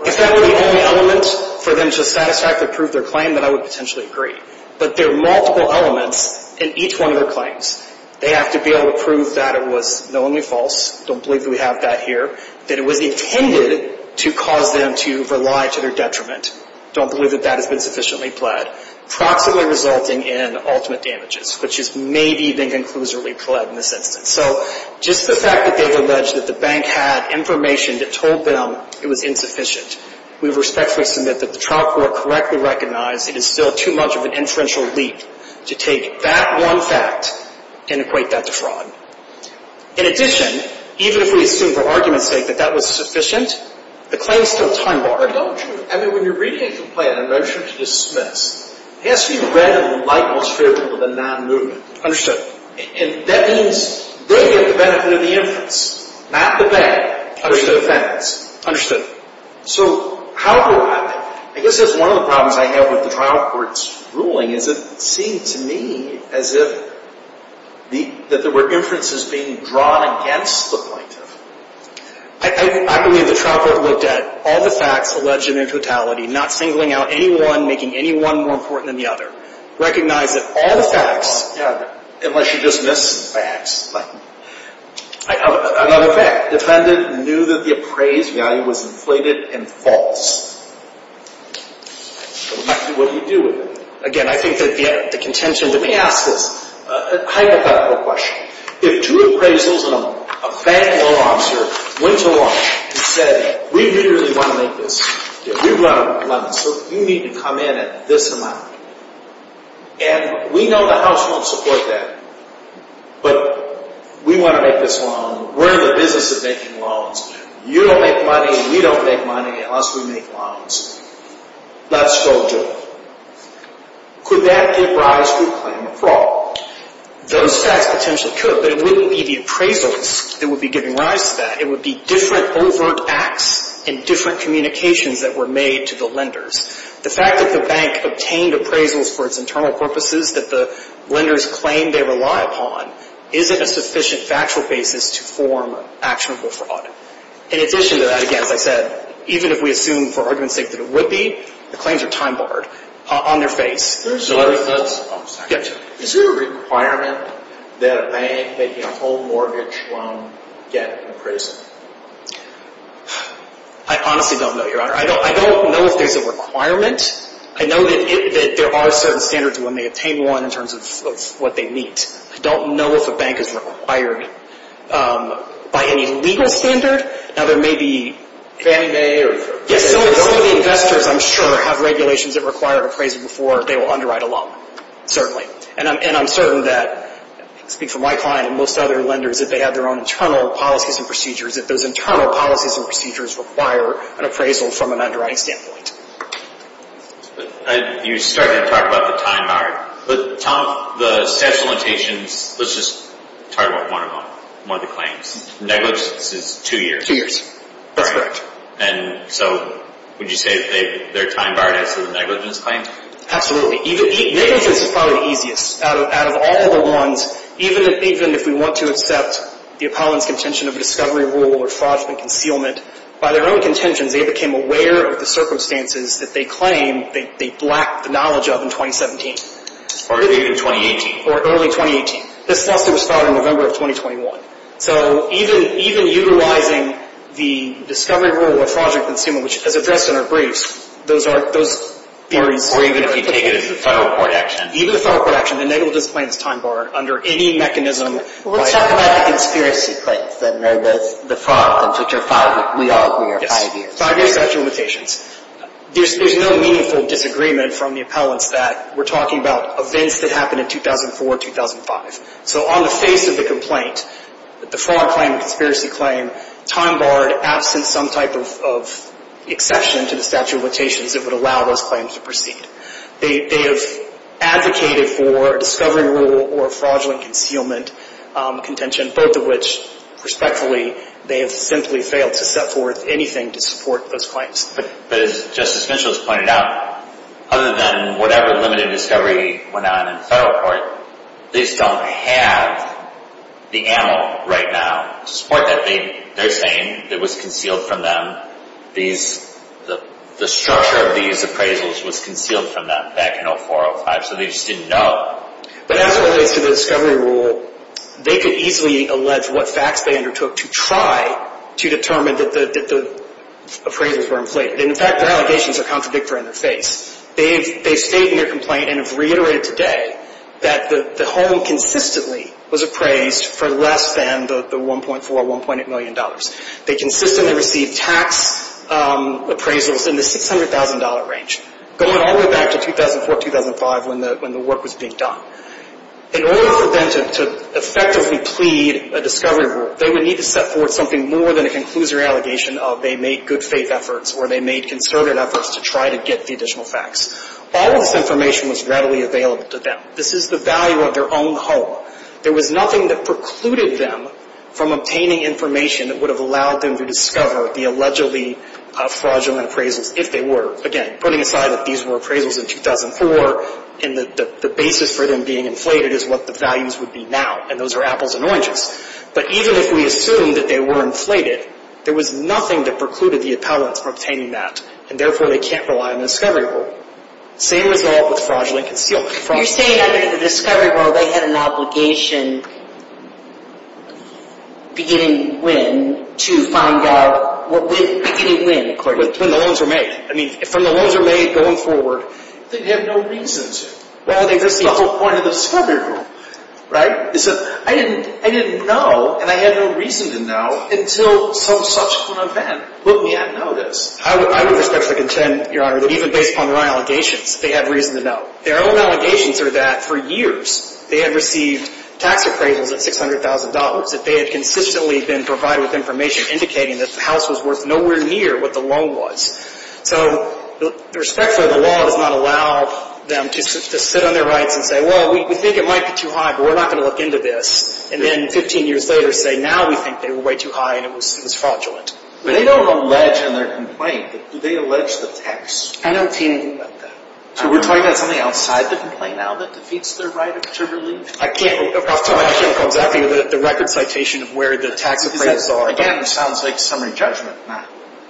If that were the only elements for them to satisfactorily prove their claim, then I would potentially agree. But there are multiple elements in each one of their claims. They have to be able to prove that it was knowingly false, don't believe that we have that here, that it was intended to cause them to rely to their detriment, don't believe that that is insufficiently pled, properly resulting in ultimate damages, which is maybe the conclusively pled misinterpretation. So just the fact that they've alleged that the bank had information that told them it was insufficient, we respectfully submit that the trial court correctly recognized it is still too much of an inferential leap to take that one fact and equate that to fraud. In addition, even if we assume the argument states that that was sufficient, the claim is still time-bound. I know, and when you're reaching a complaint, a motion to dismiss, it has to be read as a light illustration of the non-movement. Understood. And that means they get the benefit of the inference, not the bank. Understood. So, however, I guess that's one of the problems I have with the trial court's ruling, is it seemed to me as if there were inferences being drawn against the plaintiff. I believe the trial court looked at all the facts alleged in their totality, not singling out any one, making any one more important than the other, recognized that all the facts, unless you dismiss the facts, Another fact, defendants knew that the appraised value was inflated and false. So, we might see what we do with it. Again, I think that the contention, let me ask this, a hypothetical question. If two appraisals, a fan or an officer, went along and said, we really want to make this, we want to make this, so you need to come in at this amount, and we know the House won't support that, but we want to make this loan, we're in the business of making loans, you don't make money, we don't make money, unless we make loans. That's told you. Could that be for us to claim a fraud? Those facts potentially could, but it wouldn't be the appraisals that would be giving rise to that. It would be different overt acts and different communications that were made to the lenders. The fact that the bank obtained appraisals for its internal purposes, that the lenders claim they rely upon, isn't a sufficient factual basis to form actionable fraud. In addition to that, again, as I said, even if we assume for argument's sake that it would be, the claims are time barred on their face. Is there a requirement that a bank may pay a full mortgage loan debt in appraisals? I honestly don't know, Your Honor. I don't know if there's a requirement. I know that there are certain standards when they obtain one in terms of what they need. I don't know if a bank is required by any legal standard. Now, there may be, if any may, if any investors, I'm sure, have regulations that require appraisal before, they will underwrite a loan, certainly. And I'm certain that, I speak for my client and most other lenders, that they have their own internal policies and procedures, that those internal policies and procedures require an appraisal from an underwriting standpoint. You started to talk about the time bar. Tom, the statute of limitations, let's just talk about one of the claims. Negligence is two years. Two years. Correct. And so, would you say that they're time barred after negligence claims? Absolutely. Negligence is probably easiest. Out of all the ones, even if we want to accept the common contention of discovery rule or fraudulent concealment, by their own contention, they became aware of the circumstances that they claim they lacked the knowledge of in 2017. Or early 2018. Or early 2018. This lawsuit was filed in November of 2021. So, even utilizing the discovery rule or fraudulent concealment, which is addressed in our briefs, those are important. Or even if you take it as a final court action. Even a final court action, the negligence claims time bar, under any mechanism, What about the conspiracy claims? The fraud claims that you're filing? We all hear the idea. Fraudulent conspiracy claims. There's no meaningful disagreement from the appellants that we're talking about events that happened in 2004, 2005. So, on the face of the complaint, the fraud claim, the conspiracy claim, time barred, absent some type of exception to the statute of limitations that would allow those claims to proceed. They've advocated for a discovery rule or fraudulent concealment contention. Both of which, respectfully, they have essentially failed to step forward with anything to support those claims. But as Justice Mitchell has pointed out, other than whatever limited discovery went on in federal court, they still don't have the animal right now, the sport that they're saying, that was concealed from them. The structure of these appraisals was concealed from them back in 2004, 2005. So, they just didn't know. But as it relates to the discovery rule, they could easily allege what facts they undertook to try to determine that the appraisals were in place. In fact, the allegations are contradictory in their face. They state in their complaint and have reiterated today that the home consistently was appraised for less than the $1.4, $1.8 million. They consistently received tax appraisals in the $600,000 range. Going all the way back to 2004, 2005 when the work was being done. In order for them to effectively plead a discovery rule, they would need to step forward with something more than a conclusive allegation of they made good faith efforts or they made conservative efforts to try to get the additional facts. All of this information was readily available to them. This is the value of their own home. There was nothing that precluded them from obtaining information that would have allowed them to discover the allegedly fraudulent appraisals, if they were, again, putting aside that these were appraisals in 2004 and that the basis for them being inflated is what the values would be now, and those are apples and oranges. But even if we assume that they were inflated, there was nothing that precluded the appellants from obtaining that, and therefore they can't rely on the discovery rule. Same with all the fraudulent concealments. You're saying that the discovery rule, they had an obligation beginning when to find out, beginning when, according to you? When the loans were made. I mean, when the loans were made going forward, they had no reasons. Well, they took the whole point of the discovery rule. Right? It's just, I didn't know, and I had no reason to know, until some such event. But we had noticed. I would respectfully contend, Your Honor, that even based on their own allegations, they had reason to know. Their own allegations were that, for years, they had received tax appraisals of $600,000 that they had consistently been provided with information indicating that the house was worth nowhere near what the loan was. So, respectfully, the law does not allow them to sit on their right and say, well, we think it might be too high, but we're not going to look into this. And then 15 years later say, now we think they were way too high and it was fraudulent. They don't allege in their complaint that they alleged the tax. I haven't seen anything like that. So, we're talking about something outside the complaint now that defeats their right to release? I can't. I'm talking about the record citation of where the tax appraisals are. So, again, it sounds like summary judgment, not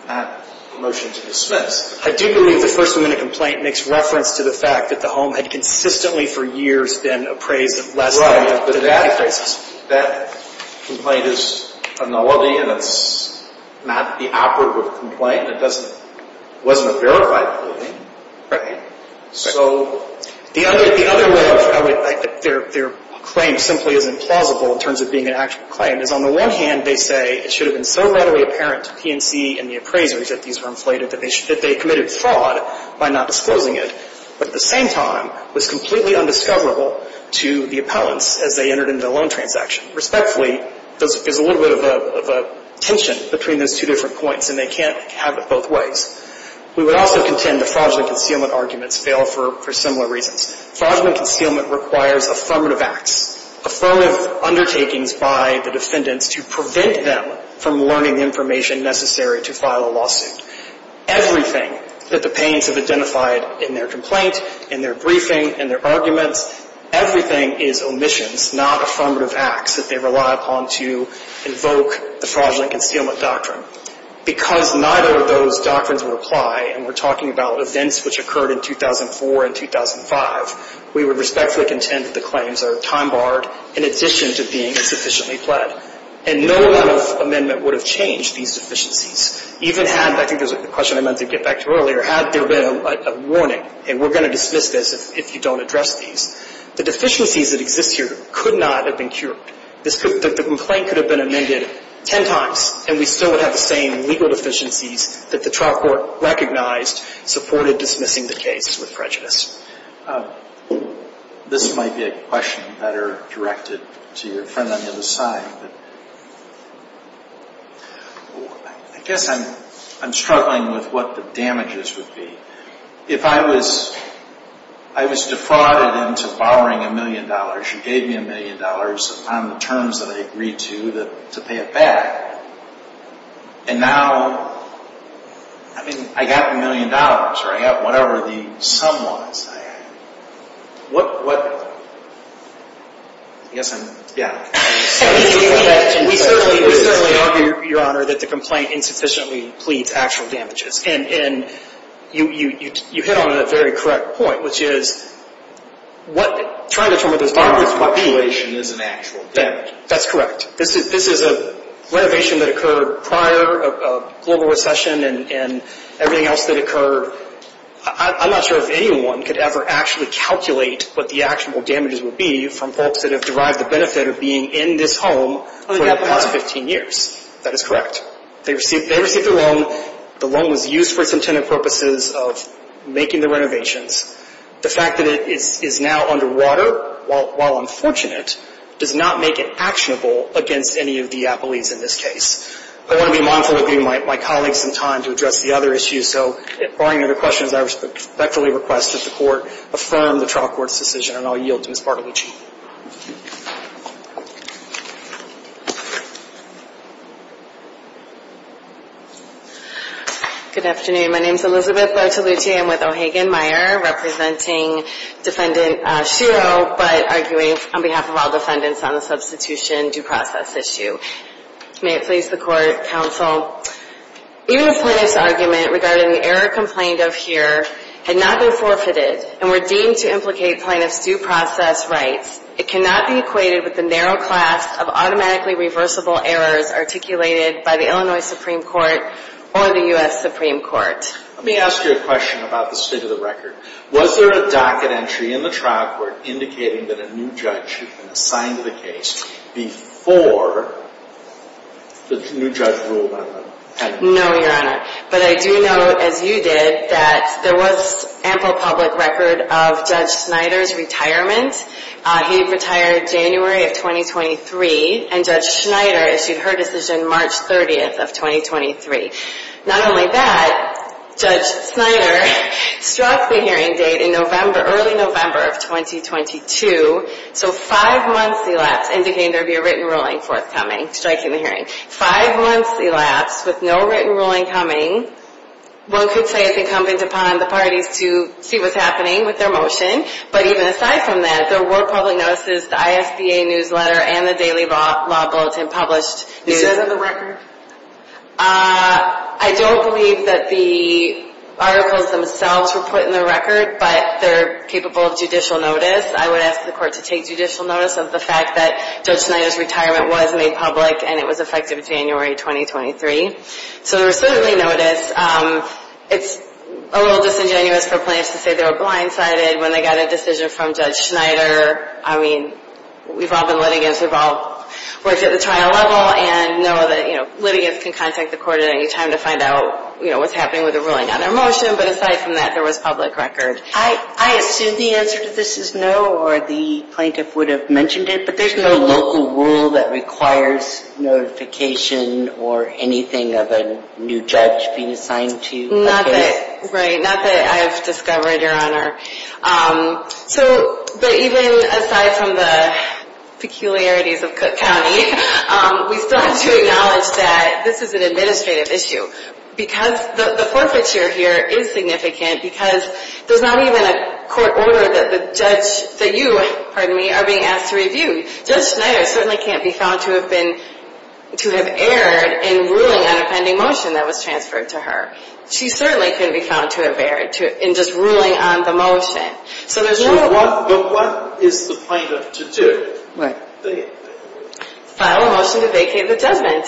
a motion to dismiss. I do believe the person in the complaint makes reference to the fact that the home had consistently, for years, been appraised as less than $600,000. That complaint is analogy and it's not the operative complaint. It wasn't a verified complaint. So, the other way, their claim simply is implausible in terms of being an actual claim. On the one hand, they say, it should have been so readily apparent to P&C and the appraisers that these were inflated that they committed fraud by not disclosing it. But at the same time, it was completely undiscoverable to the appellants as they entered into the loan transaction. Respectfully, there's a little bit of a tension between those two different points and they can't have it both ways. We would also contend that fraudulent concealment arguments fail for similar reasons. Fraudulent concealment requires affirmative acts. Affirmative undertakings by the defendants to prevent them from learning information necessary to file a lawsuit. Everything that the plaintiffs have identified in their complaint, in their briefing, in their arguments, everything is omissions, not affirmative acts that they rely upon to evoke the fraudulent concealment doctrine. Because neither of those doctrines will apply and we're talking about events which occurred in 2004 and 2005, we would respectfully contend that the claims are time-barred in addition to being sufficiently fled. And no law amendment would have changed these deficiencies. Even had, I think this is the question I meant to get back to earlier, had there been a warning, and we're going to dismiss this if you don't address these, the deficiencies that exist here could not have been cured. The complaint could have been amended ten times and we still would have the same legal deficiencies that the trial court recognized supported dismissing the case with prejudice. This might be a question better directed to your friend on the other side. I guess I'm struggling with what the damages would be. If I was defrauded into borrowing a million dollars, you gave me a million dollars on the terms that I agreed to to pay it back, and now, I mean, I got a million dollars, or I got whatever the sum was. What? Yes, I'm... Yeah. Your Honor, the complaint insufficiently pleads actual damages. And you hit on a very correct point, which is, trying to determine if the population is an actual damage. That's correct. This is a renovation that occurred prior to the global recession and everything else that occurred. I'm not sure if anyone could ever actually calculate what the actual damages would be from folks that have derived the benefit of being in this home for the past 15 years. That is correct. They received the loan. The loan was used for its intended purposes of making the renovations. The fact that it is now underwater, while unfortunate, does not make it actionable against any of the appellees in this case. I want to be mindful of being my colleagues in time to address the other issues. So, if there are any other questions, I respectfully request to support, affirm the trial court's decision, and I'll yield to Ms. Bartolucci. Good afternoon. My name is Elizabeth Bartolucci. I'm with O'Hagan-Meyer, representing defendant Shiro, but arguing on behalf of all defendants on a substitution due process issue. May it please the court, counsel. Even if Plaintiff's argument regarding the error complained of here had not been forfeited and were deemed to implicate Plaintiff's due process rights, it cannot be equated with the narrow class of automatically reversible errors articulated by the Illinois Supreme Court or the U.S. Supreme Court. Let me ask you a question about the state of the record. Was there a docket entry in the trial court indicating that a new judge before the new judge ruled on that? No, Your Honor. But I do know, as you did, that there was ample public record of Judge Schneider's retirement. He retired January of 2023, and Judge Schneider issued her decision March 30th of 2023. Not only that, Judge Schneider struck the hearing date in November, early November of 2022, so five months elapsed, and began to review a written ruling for its coming, striking the hearing. Five months elapsed with no written ruling coming. One could say it's incumbent upon the parties to see what's happening with their motion, but even aside from that, there were public notices, the ISDA newsletter, and the Daily Law Bulletin published. Is that in the record? I don't believe that the articles themselves were put in the record, but they're capable of judicial notice. I would ask the court to take judicial notice of the fact that Judge Schneider's retirement was made public, and it was effective January 2023. So there was certainly notice. It's a little disingenuous for plaintiffs to say they were blindsided when they got a decision from Judge Schneider. I mean, we've all been litigants. We've all worked at the trial level and know that litigants can contact the court at any time to find out what's happening with the ruling on their motion, but aside from that, there was public record. I understand the answer to this is no, or the plaintiff would have mentioned it, but there's no local rule that requires notification or anything of a new judge being assigned to... Not that I've discovered, Your Honor. But even aside from the peculiarities of Cook County, we still have to acknowledge that this is an administrative issue because the forfeiture here is significant because there's not even a court order that you are being asked to review. Judge Schneider certainly can't be found to have erred in ruling on a pending motion that was transferred to her. She certainly can't be found to have erred in just ruling on the motion. So there's no... So what is the plaintiff to do? File a motion to vacate the judgment.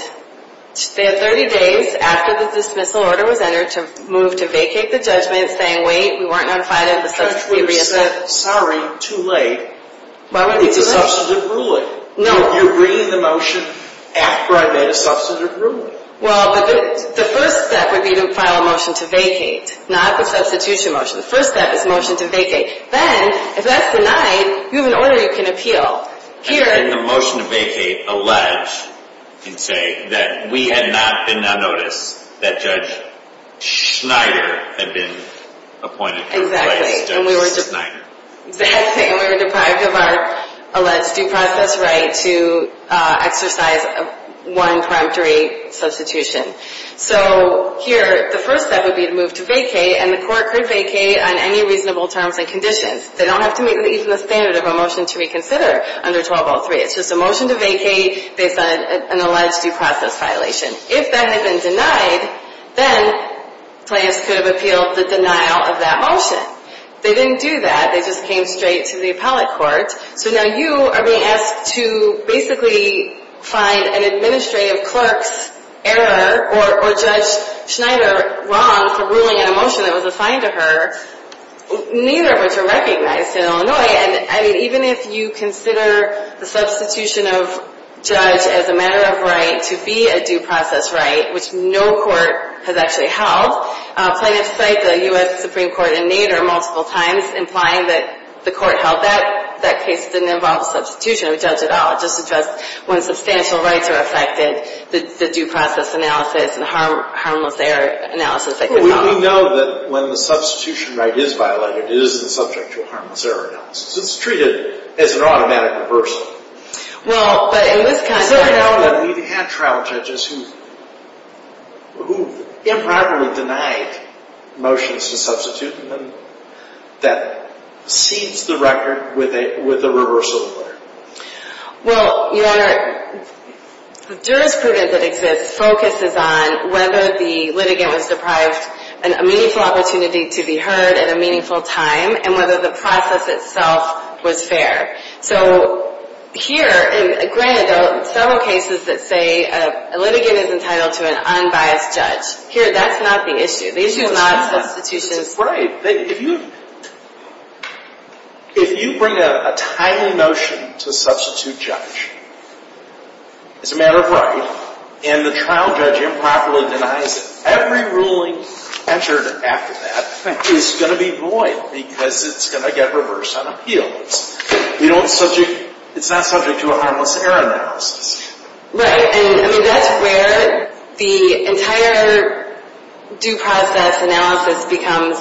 They have 30 days after the dismissal order was entered to move to vacate the judgment, saying, wait, we weren't going to file it... First we said, sorry, too late. Why don't we discuss the ruling? No, you're reading the motion after I've made a substantive ruling. Well, the first step would be to file a motion to vacate, not the substitution motion. The first step is a motion to vacate. Then, if that's denied, you have an order you can appeal. Hearing... I think the motion to vacate allows, you could say, that we had not been unnoticed. That Judge Schneider had been appointed... Exactly. And we were deprived of our alleged due process right to exercise a 1-5-3 substitution. So here, the first step would be to move to vacate, and the court could vacate on any reasonable terms and conditions. They don't have to meet even the standard of a motion to reconsider under 12.03. It's just a motion to vacate based on an alleged due process violation. If that had been denied, then Plans could have appealed the denial of that motion. They didn't do that. They just came straight to the appellate court. So now you are being asked to basically find an administrative clerk, error, or Judge Schneider wrong for ruling a motion that was assigned to her, neither of which are recognized in Illinois. And even if you consider the substitution of Judge as a matter of right to be a due process right, which no court has actually held, plaintiffs cite the U.S. Supreme Court in Nader multiple times implying that the court held that. That case didn't involve substitution. It doesn't at all. It just suggests when substantial rights are affected, the due process analysis and the harmless error analysis that you follow. Well, we do know that when the substitution right is violated, it is the subject of harmless error analysis. It's treated as an automatic reversal. Well, but in this context, we've had trial judges who impartially denied motions to substitute that seized the record with a reversal. Well, the jurisprudence that exists focuses on whether the litigant was deprived of a meaningful opportunity to be heard at a meaningful time, and whether the process itself was fair. So, here, and granted, there are several cases that say a litigant is entitled to an unbiased judge. Here, that's not the issue. They do not have substitutions. Right. If you bring a title motion to substitute judge as a matter of right, and the trial judge improperly denies it, every ruling entered after that is going to be void because it's going to get reversed on appeal. It's not subject to a harmless error analysis. Right, and that's where the entire due process analysis becomes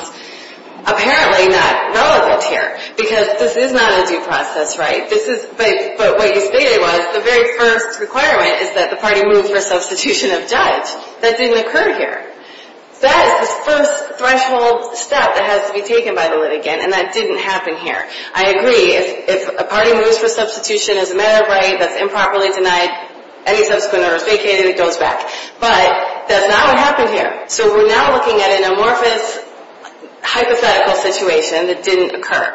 apparently not relevant here because this is not a due process right. But what you stated was the very current requirement is that the party move to a substitution of judge. That didn't occur here. That is the first threshold step that has to be taken by the litigant, and that didn't happen here. I agree. If a party moves with substitution as a matter of right that's improperly denied, any substitute is going to be vacated, and it goes back. But that's not what happened here. So, we're now looking at an amorphous hypothetical situation, and this didn't occur.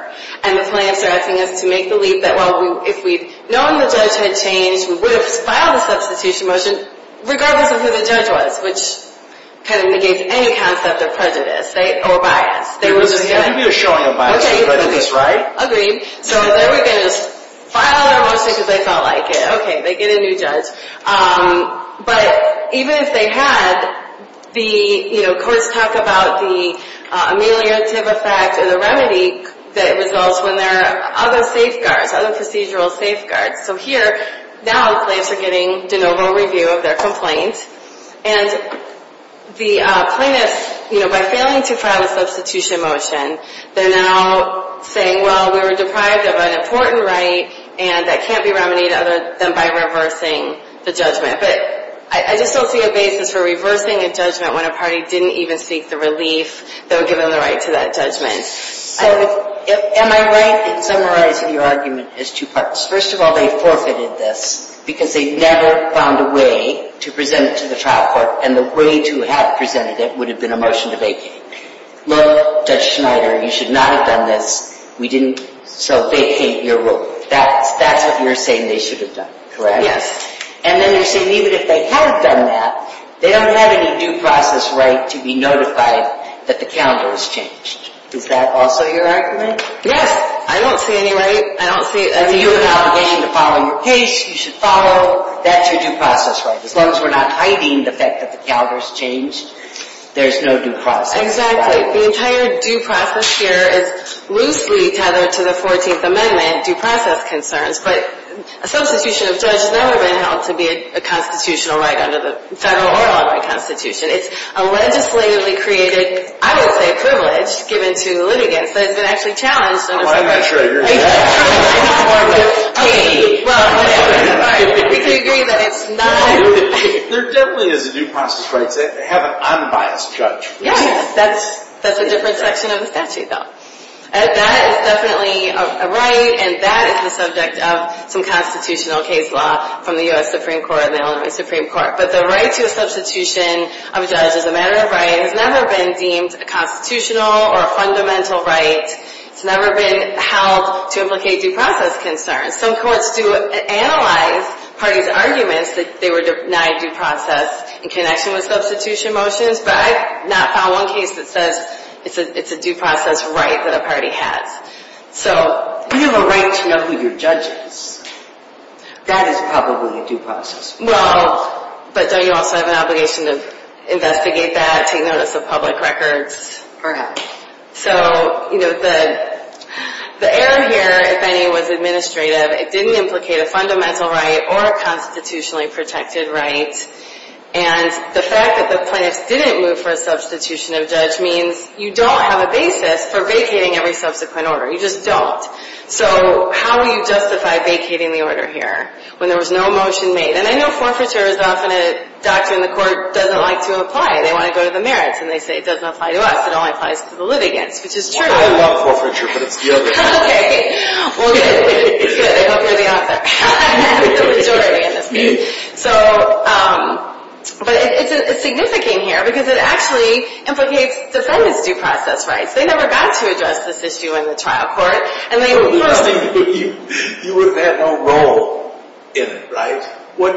And the plaintiffs are asking us to make the leap that well, if we've known the judgment changed, we would have just filed a substitution motion regardless of who the judge was, which kind of negates any concept of prejudice, right, or bias. You did a show on the bias. You've done this, right? Agreed. So, as I said, we're going to file a motion because they felt like it. Okay, they get a new judge. But even if they had, the courts talk about the ameliorative effect or the remedy that results when there are other safeguards, other procedural safeguards. So, here, now the plaintiffs are getting the normal review of their complaint, and the plaintiffs, by failing to file a substitution motion, they're now saying, well, we were deprived of an important right and that can't be remedied other than by reversing the judgment. But I just don't see a basis for reversing a judgment when a party didn't even seek the relief that would give them the right to that judgment. And my right to summarize your argument is two-part. First of all, they forfeited this because they never found a way to present it to the trial court, and the way to have presented it would have been a motion to vacate. Look, Judge Schneider, you should not have done this. We didn't... So, vacate your ruling. That's what you're saying they should have done, correct? Yes. And then they say, even if they had done that, they don't have any due process right to be notified that the calendar has changed. Is that also your argument? Yes. I don't see any right. I don't see... I mean, you were not waiting to follow your case. You should follow... That's your due process right. The courts were not hiding the fact that the calendar has changed. There's no due process. Exactly. The entire due process here is loosely tied to the 14th Amendment due process concerns, but a substitution of judge is never going to help to be a constitutional right under the federal or local constitution. It's a legislatively created, I would say, privilege given to the litigants that has been actually challenged so much. Well, I'm not sure I hear you. Well, I'm not sure I hear you. Well, you can agree that it's not... There definitely is a due process part that have an unbiased judge. Yeah, yeah. That's a different section of the statute, though. And that is definitely a right, and that is the subject of some constitutional case law from the U.S. Supreme Court and the Illinois Supreme Court. But the right to a substitution of judge as a matter of right has never been deemed a constitutional or a fundamental right. It's never been held to implicate due process concerns. Some courts do analyze parties' arguments if they were denied due process in connection with substitution motions, but I've not found one case that says it's a due process right that a party has. So, you have a right to know who your judge is. That is probably due process. Well, but then you also have an obligation to investigate that to get a list of public records. So, the error here, if any, was administrative. It didn't implicate a fundamental right or a constitutionally protected right. And the fact that the client didn't move for a substitution of judge means you don't have a basis for vacating every subsequent order. You just don't. So, how do you justify vacating the order here when there was no motion made? And I know forfeiture is often a doctrine the court doesn't like to apply. They want to go to the merits and they say it doesn't apply to us. It only applies to the litigants, which is true. I didn't want forfeiture for the other time. Well, good. It's good. Hopefully we don't have to have the majority in this case. So, but it's significant here because it actually implicates the solvency process rights. They never got to address this issue in the trial court. You wouldn't have a role in it, right? No,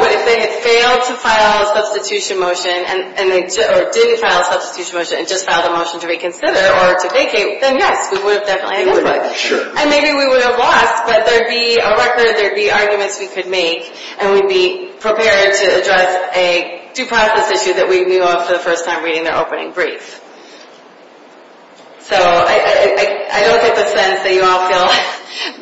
but if they failed to file a substitution motion or didn't file a substitution motion and just filed a motion to reconsider or to vacate, then yes, we would have said fine. And maybe we would have watched that there be arguments we could make and we'd be prepared to address a due process issue that we knew of for the first time reading their opening brief. So, I don't think it makes sense that you all feel like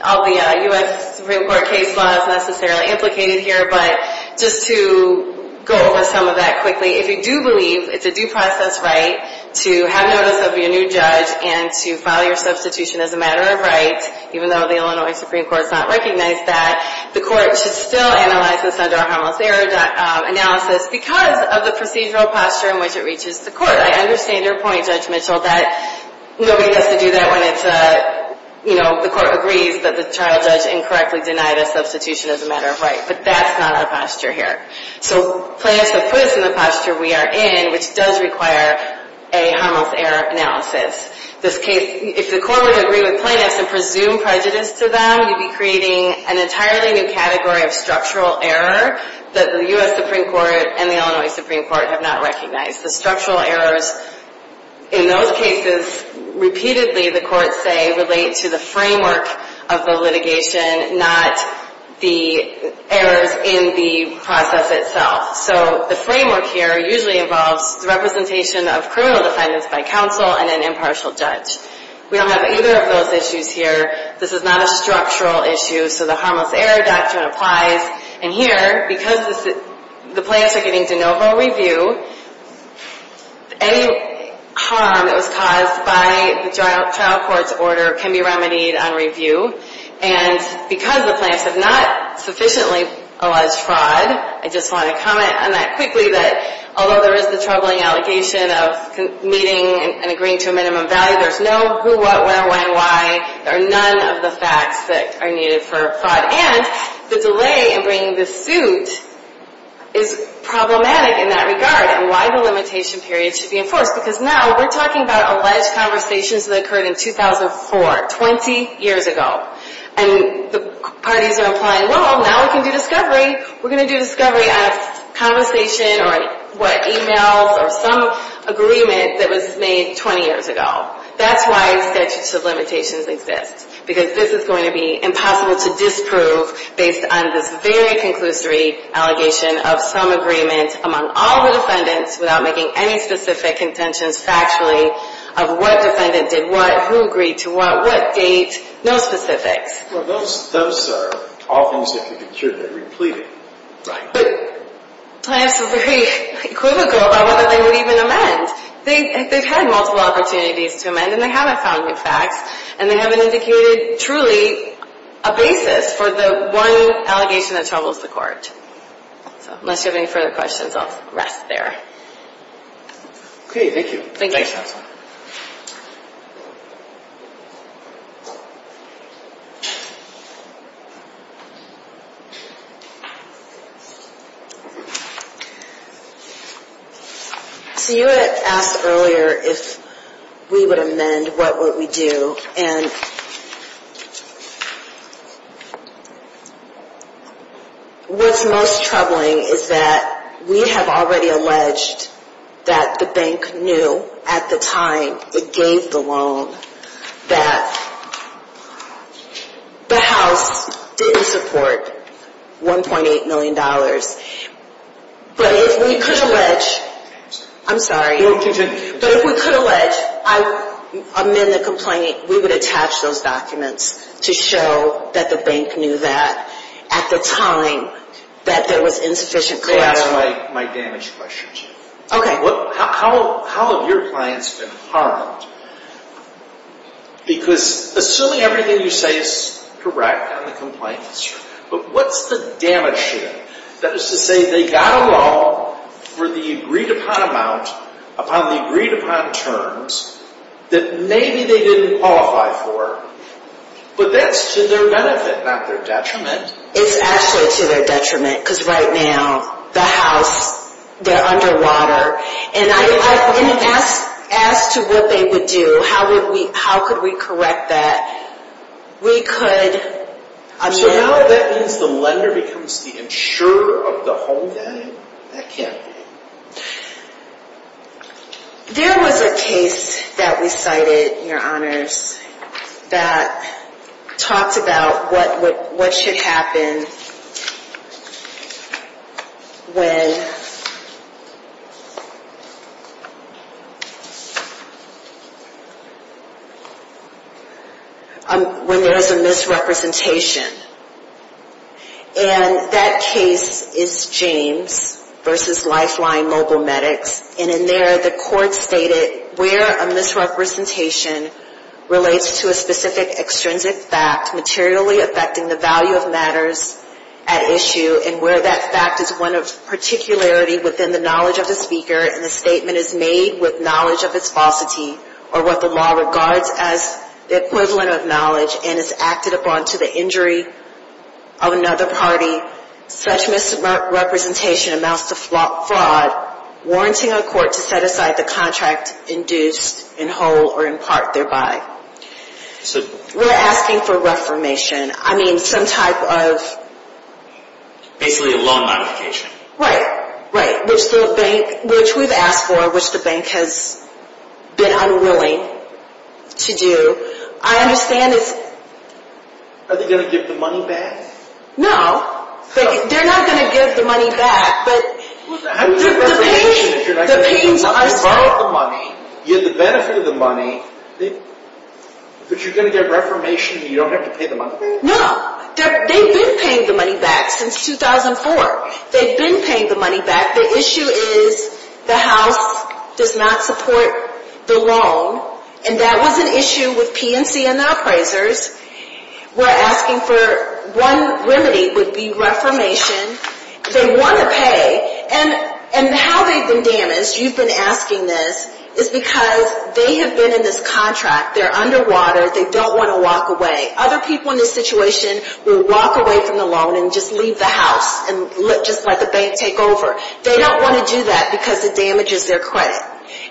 all the U.S. Supreme Court case laws necessarily implicated here, but just to go over some of that quickly. If you do believe it's a due process right to have notice of your new judge and to file your substitution as a matter of right, even though the Illinois Supreme Court does not recognize that, the court should still analyze this under a Hummel's error analysis because of the procedural posture in which it reaches the court. I understand your point, Judge Mitchell, that knowing that to do that when it's a, you know, the court agrees that the child does incorrectly deny the substitution as a matter of right, but that's not our posture here. So, plaintiffs have put us in the posture we are in which does require a Hummel's error analysis. In this case, if the court would agree with plaintiffs and presume prejudice to them, we'd be creating an entirely new category of structural error that the U.S. Supreme Court and the Illinois Supreme Court have not recognized. The structural errors in those cases, repeatedly, the courts say, relate to the framework of the litigation, not the errors in the process itself. So, the framework here usually involves the representation of criminal defendants by counsel and an impartial judge. We don't have either of those issues here. This is not a structural issue, so the Hummel's error doctrine applies. And here, because the plaintiffs are getting de novo review, any harm that was caused by the child court's order can be remedied on review. And because the plaintiffs have not sufficiently alleged fraud, I just want to comment on that quickly that although there is the troubling allegation of meeting and agreeing to a minimum value, there's no who, what, when, why, or none of the facts that are needed for fraud. And the delay in bringing the suit is problematic in that regard and why the limitation period should be enforced because now, we're talking about alleged conversations that occurred in 2004, 20 years ago. And the parties are implying, well, now we can do discovery. We're going to do discovery on a conversation or what, emails or some agreement that was made 20 years ago. That's why we said such limitations exist because this is going to be impossible to disprove based on this very conclusory allegation of some agreement among all the defendants without making any specific contention factually of what defendants did what, who agreed to what, what date, no specifics. Well, those are all things that can be treated and repleted. Plaintiffs were very critical of whether they would even amend. They've had multiple opportunities to amend and they haven't found the facts and they haven't indicated truly a basis for the one allegation that troubles the court. Unless you have any further questions, I'll rest there. Okay, thank you. Thank you. So you had asked earlier if we would amend, what would we do and what's most troubling is that we have already alleged that the bank knew at the time it gave the loan that the house didn't support 1.8 million dollars. But if we could allege, I'm sorry, but if we could allege, I would amend the complaint we would attach those documents to show that the bank knew that at the time that there was insufficient credit. I have my damage questions. Okay, how have your clients been harmed? Because assuming everything you say is correct and the complaint is true, but what's the damage here? That is to say they got along for the agreed upon amount upon the amount didn't qualify for. But that's to their benefit not their detriment. It's actually to their detriment because right now the house, they're underwater and I would ask to what they would do, how could we correct that? We could So how does that mean the becomes the owner of the home then? I can't There was a case that we cited, your honors, that talked about what should happen when there is a misrepresentation and that case is James versus Lifeline Mobile Medics and in there the court stated where a misrepresentation relates to a specific extrinsic fact materially affecting the value of matters at issue and where that fact is one of particularity within the knowledge of the speaker and the is made with knowledge of its falsity or what the law regards as the equivalent of knowledge and is acted upon to the injury of another party such misrepresentation amounts to fraud warranting a court to set aside the contract induced in whole or in thereby. We're asking for the court asking for the court to set aside the contract induced in thereby. And that was an issue with PNC and the appraisers. asking for one remedy would be reformation. They want to pay and how they've been damaged, you've been asking this, is because they have been in this contract. underwater. They don't want to walk away. Other people in this situation will walk away from the loan and just leave the house and let the bank take over. They don't want to do that because it damages their credit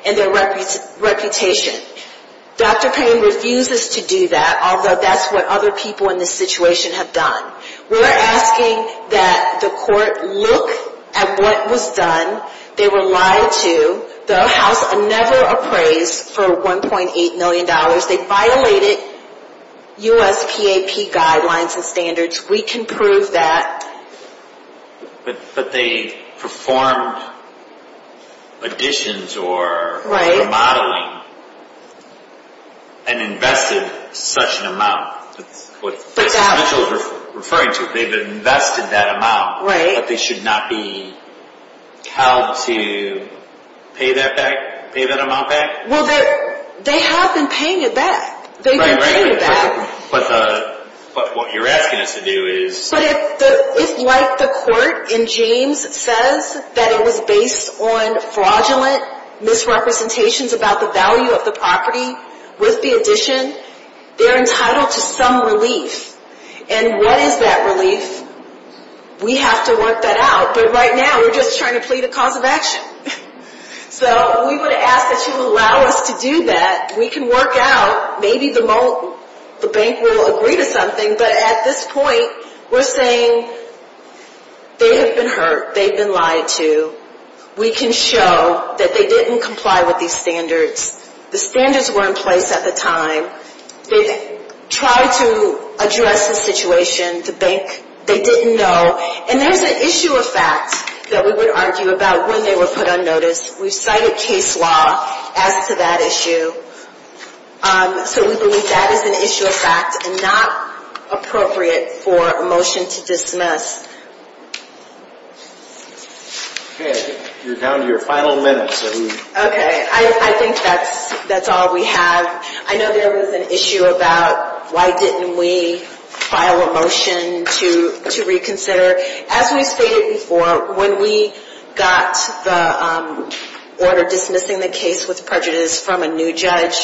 and their reputation. Dr. Payne refuses to do that although that's what other people in this situation have done. We're going to violated guidelines and standards. We can prove that. But they performed additions or remodeling and invested such an References say they invested that amount but they should not be paying that amount back. They have been paying it back. But what you're asking us to do is... It's like the court in James says that it was based on fraudulent misrepresentations about the value of the property with the addition. They're entitled to some relief. And what is that relief? We have to work that out. But right now we're just trying to plead a cause of So we would ask that you allow us to do that. We can work out maybe the bank will agree to something. But at this point we're saying they have been hurt. They've been lied to. We can show that they didn't comply with these standards. The standards weren't placed at the time. They tried to address the situation. The bank, they didn't know. And there's an issue of fact that we would argue about when they were put on notice. We cited case law as to that issue. So we believe that is an issue that Okay. You're down to your final minutes. Okay. I think that's all we have. I know there was an issue about why didn't we file a motion to reconsider. As we stated before, when we got the order dismissing the case with prejudice from a new judge,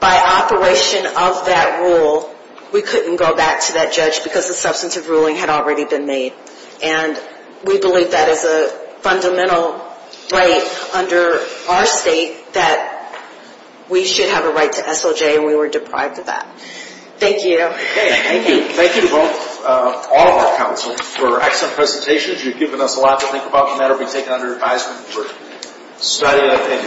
by operation of that rule, we couldn't go back to that judge because the substantive ruling had already been made. And we believe that is a fundamental right under our state that we should have a right to SOJ and we were deprived of that. Thank you. Thank you. Thank you to all of our panelists. I'm appreciate Thank you. Thank you. I have a.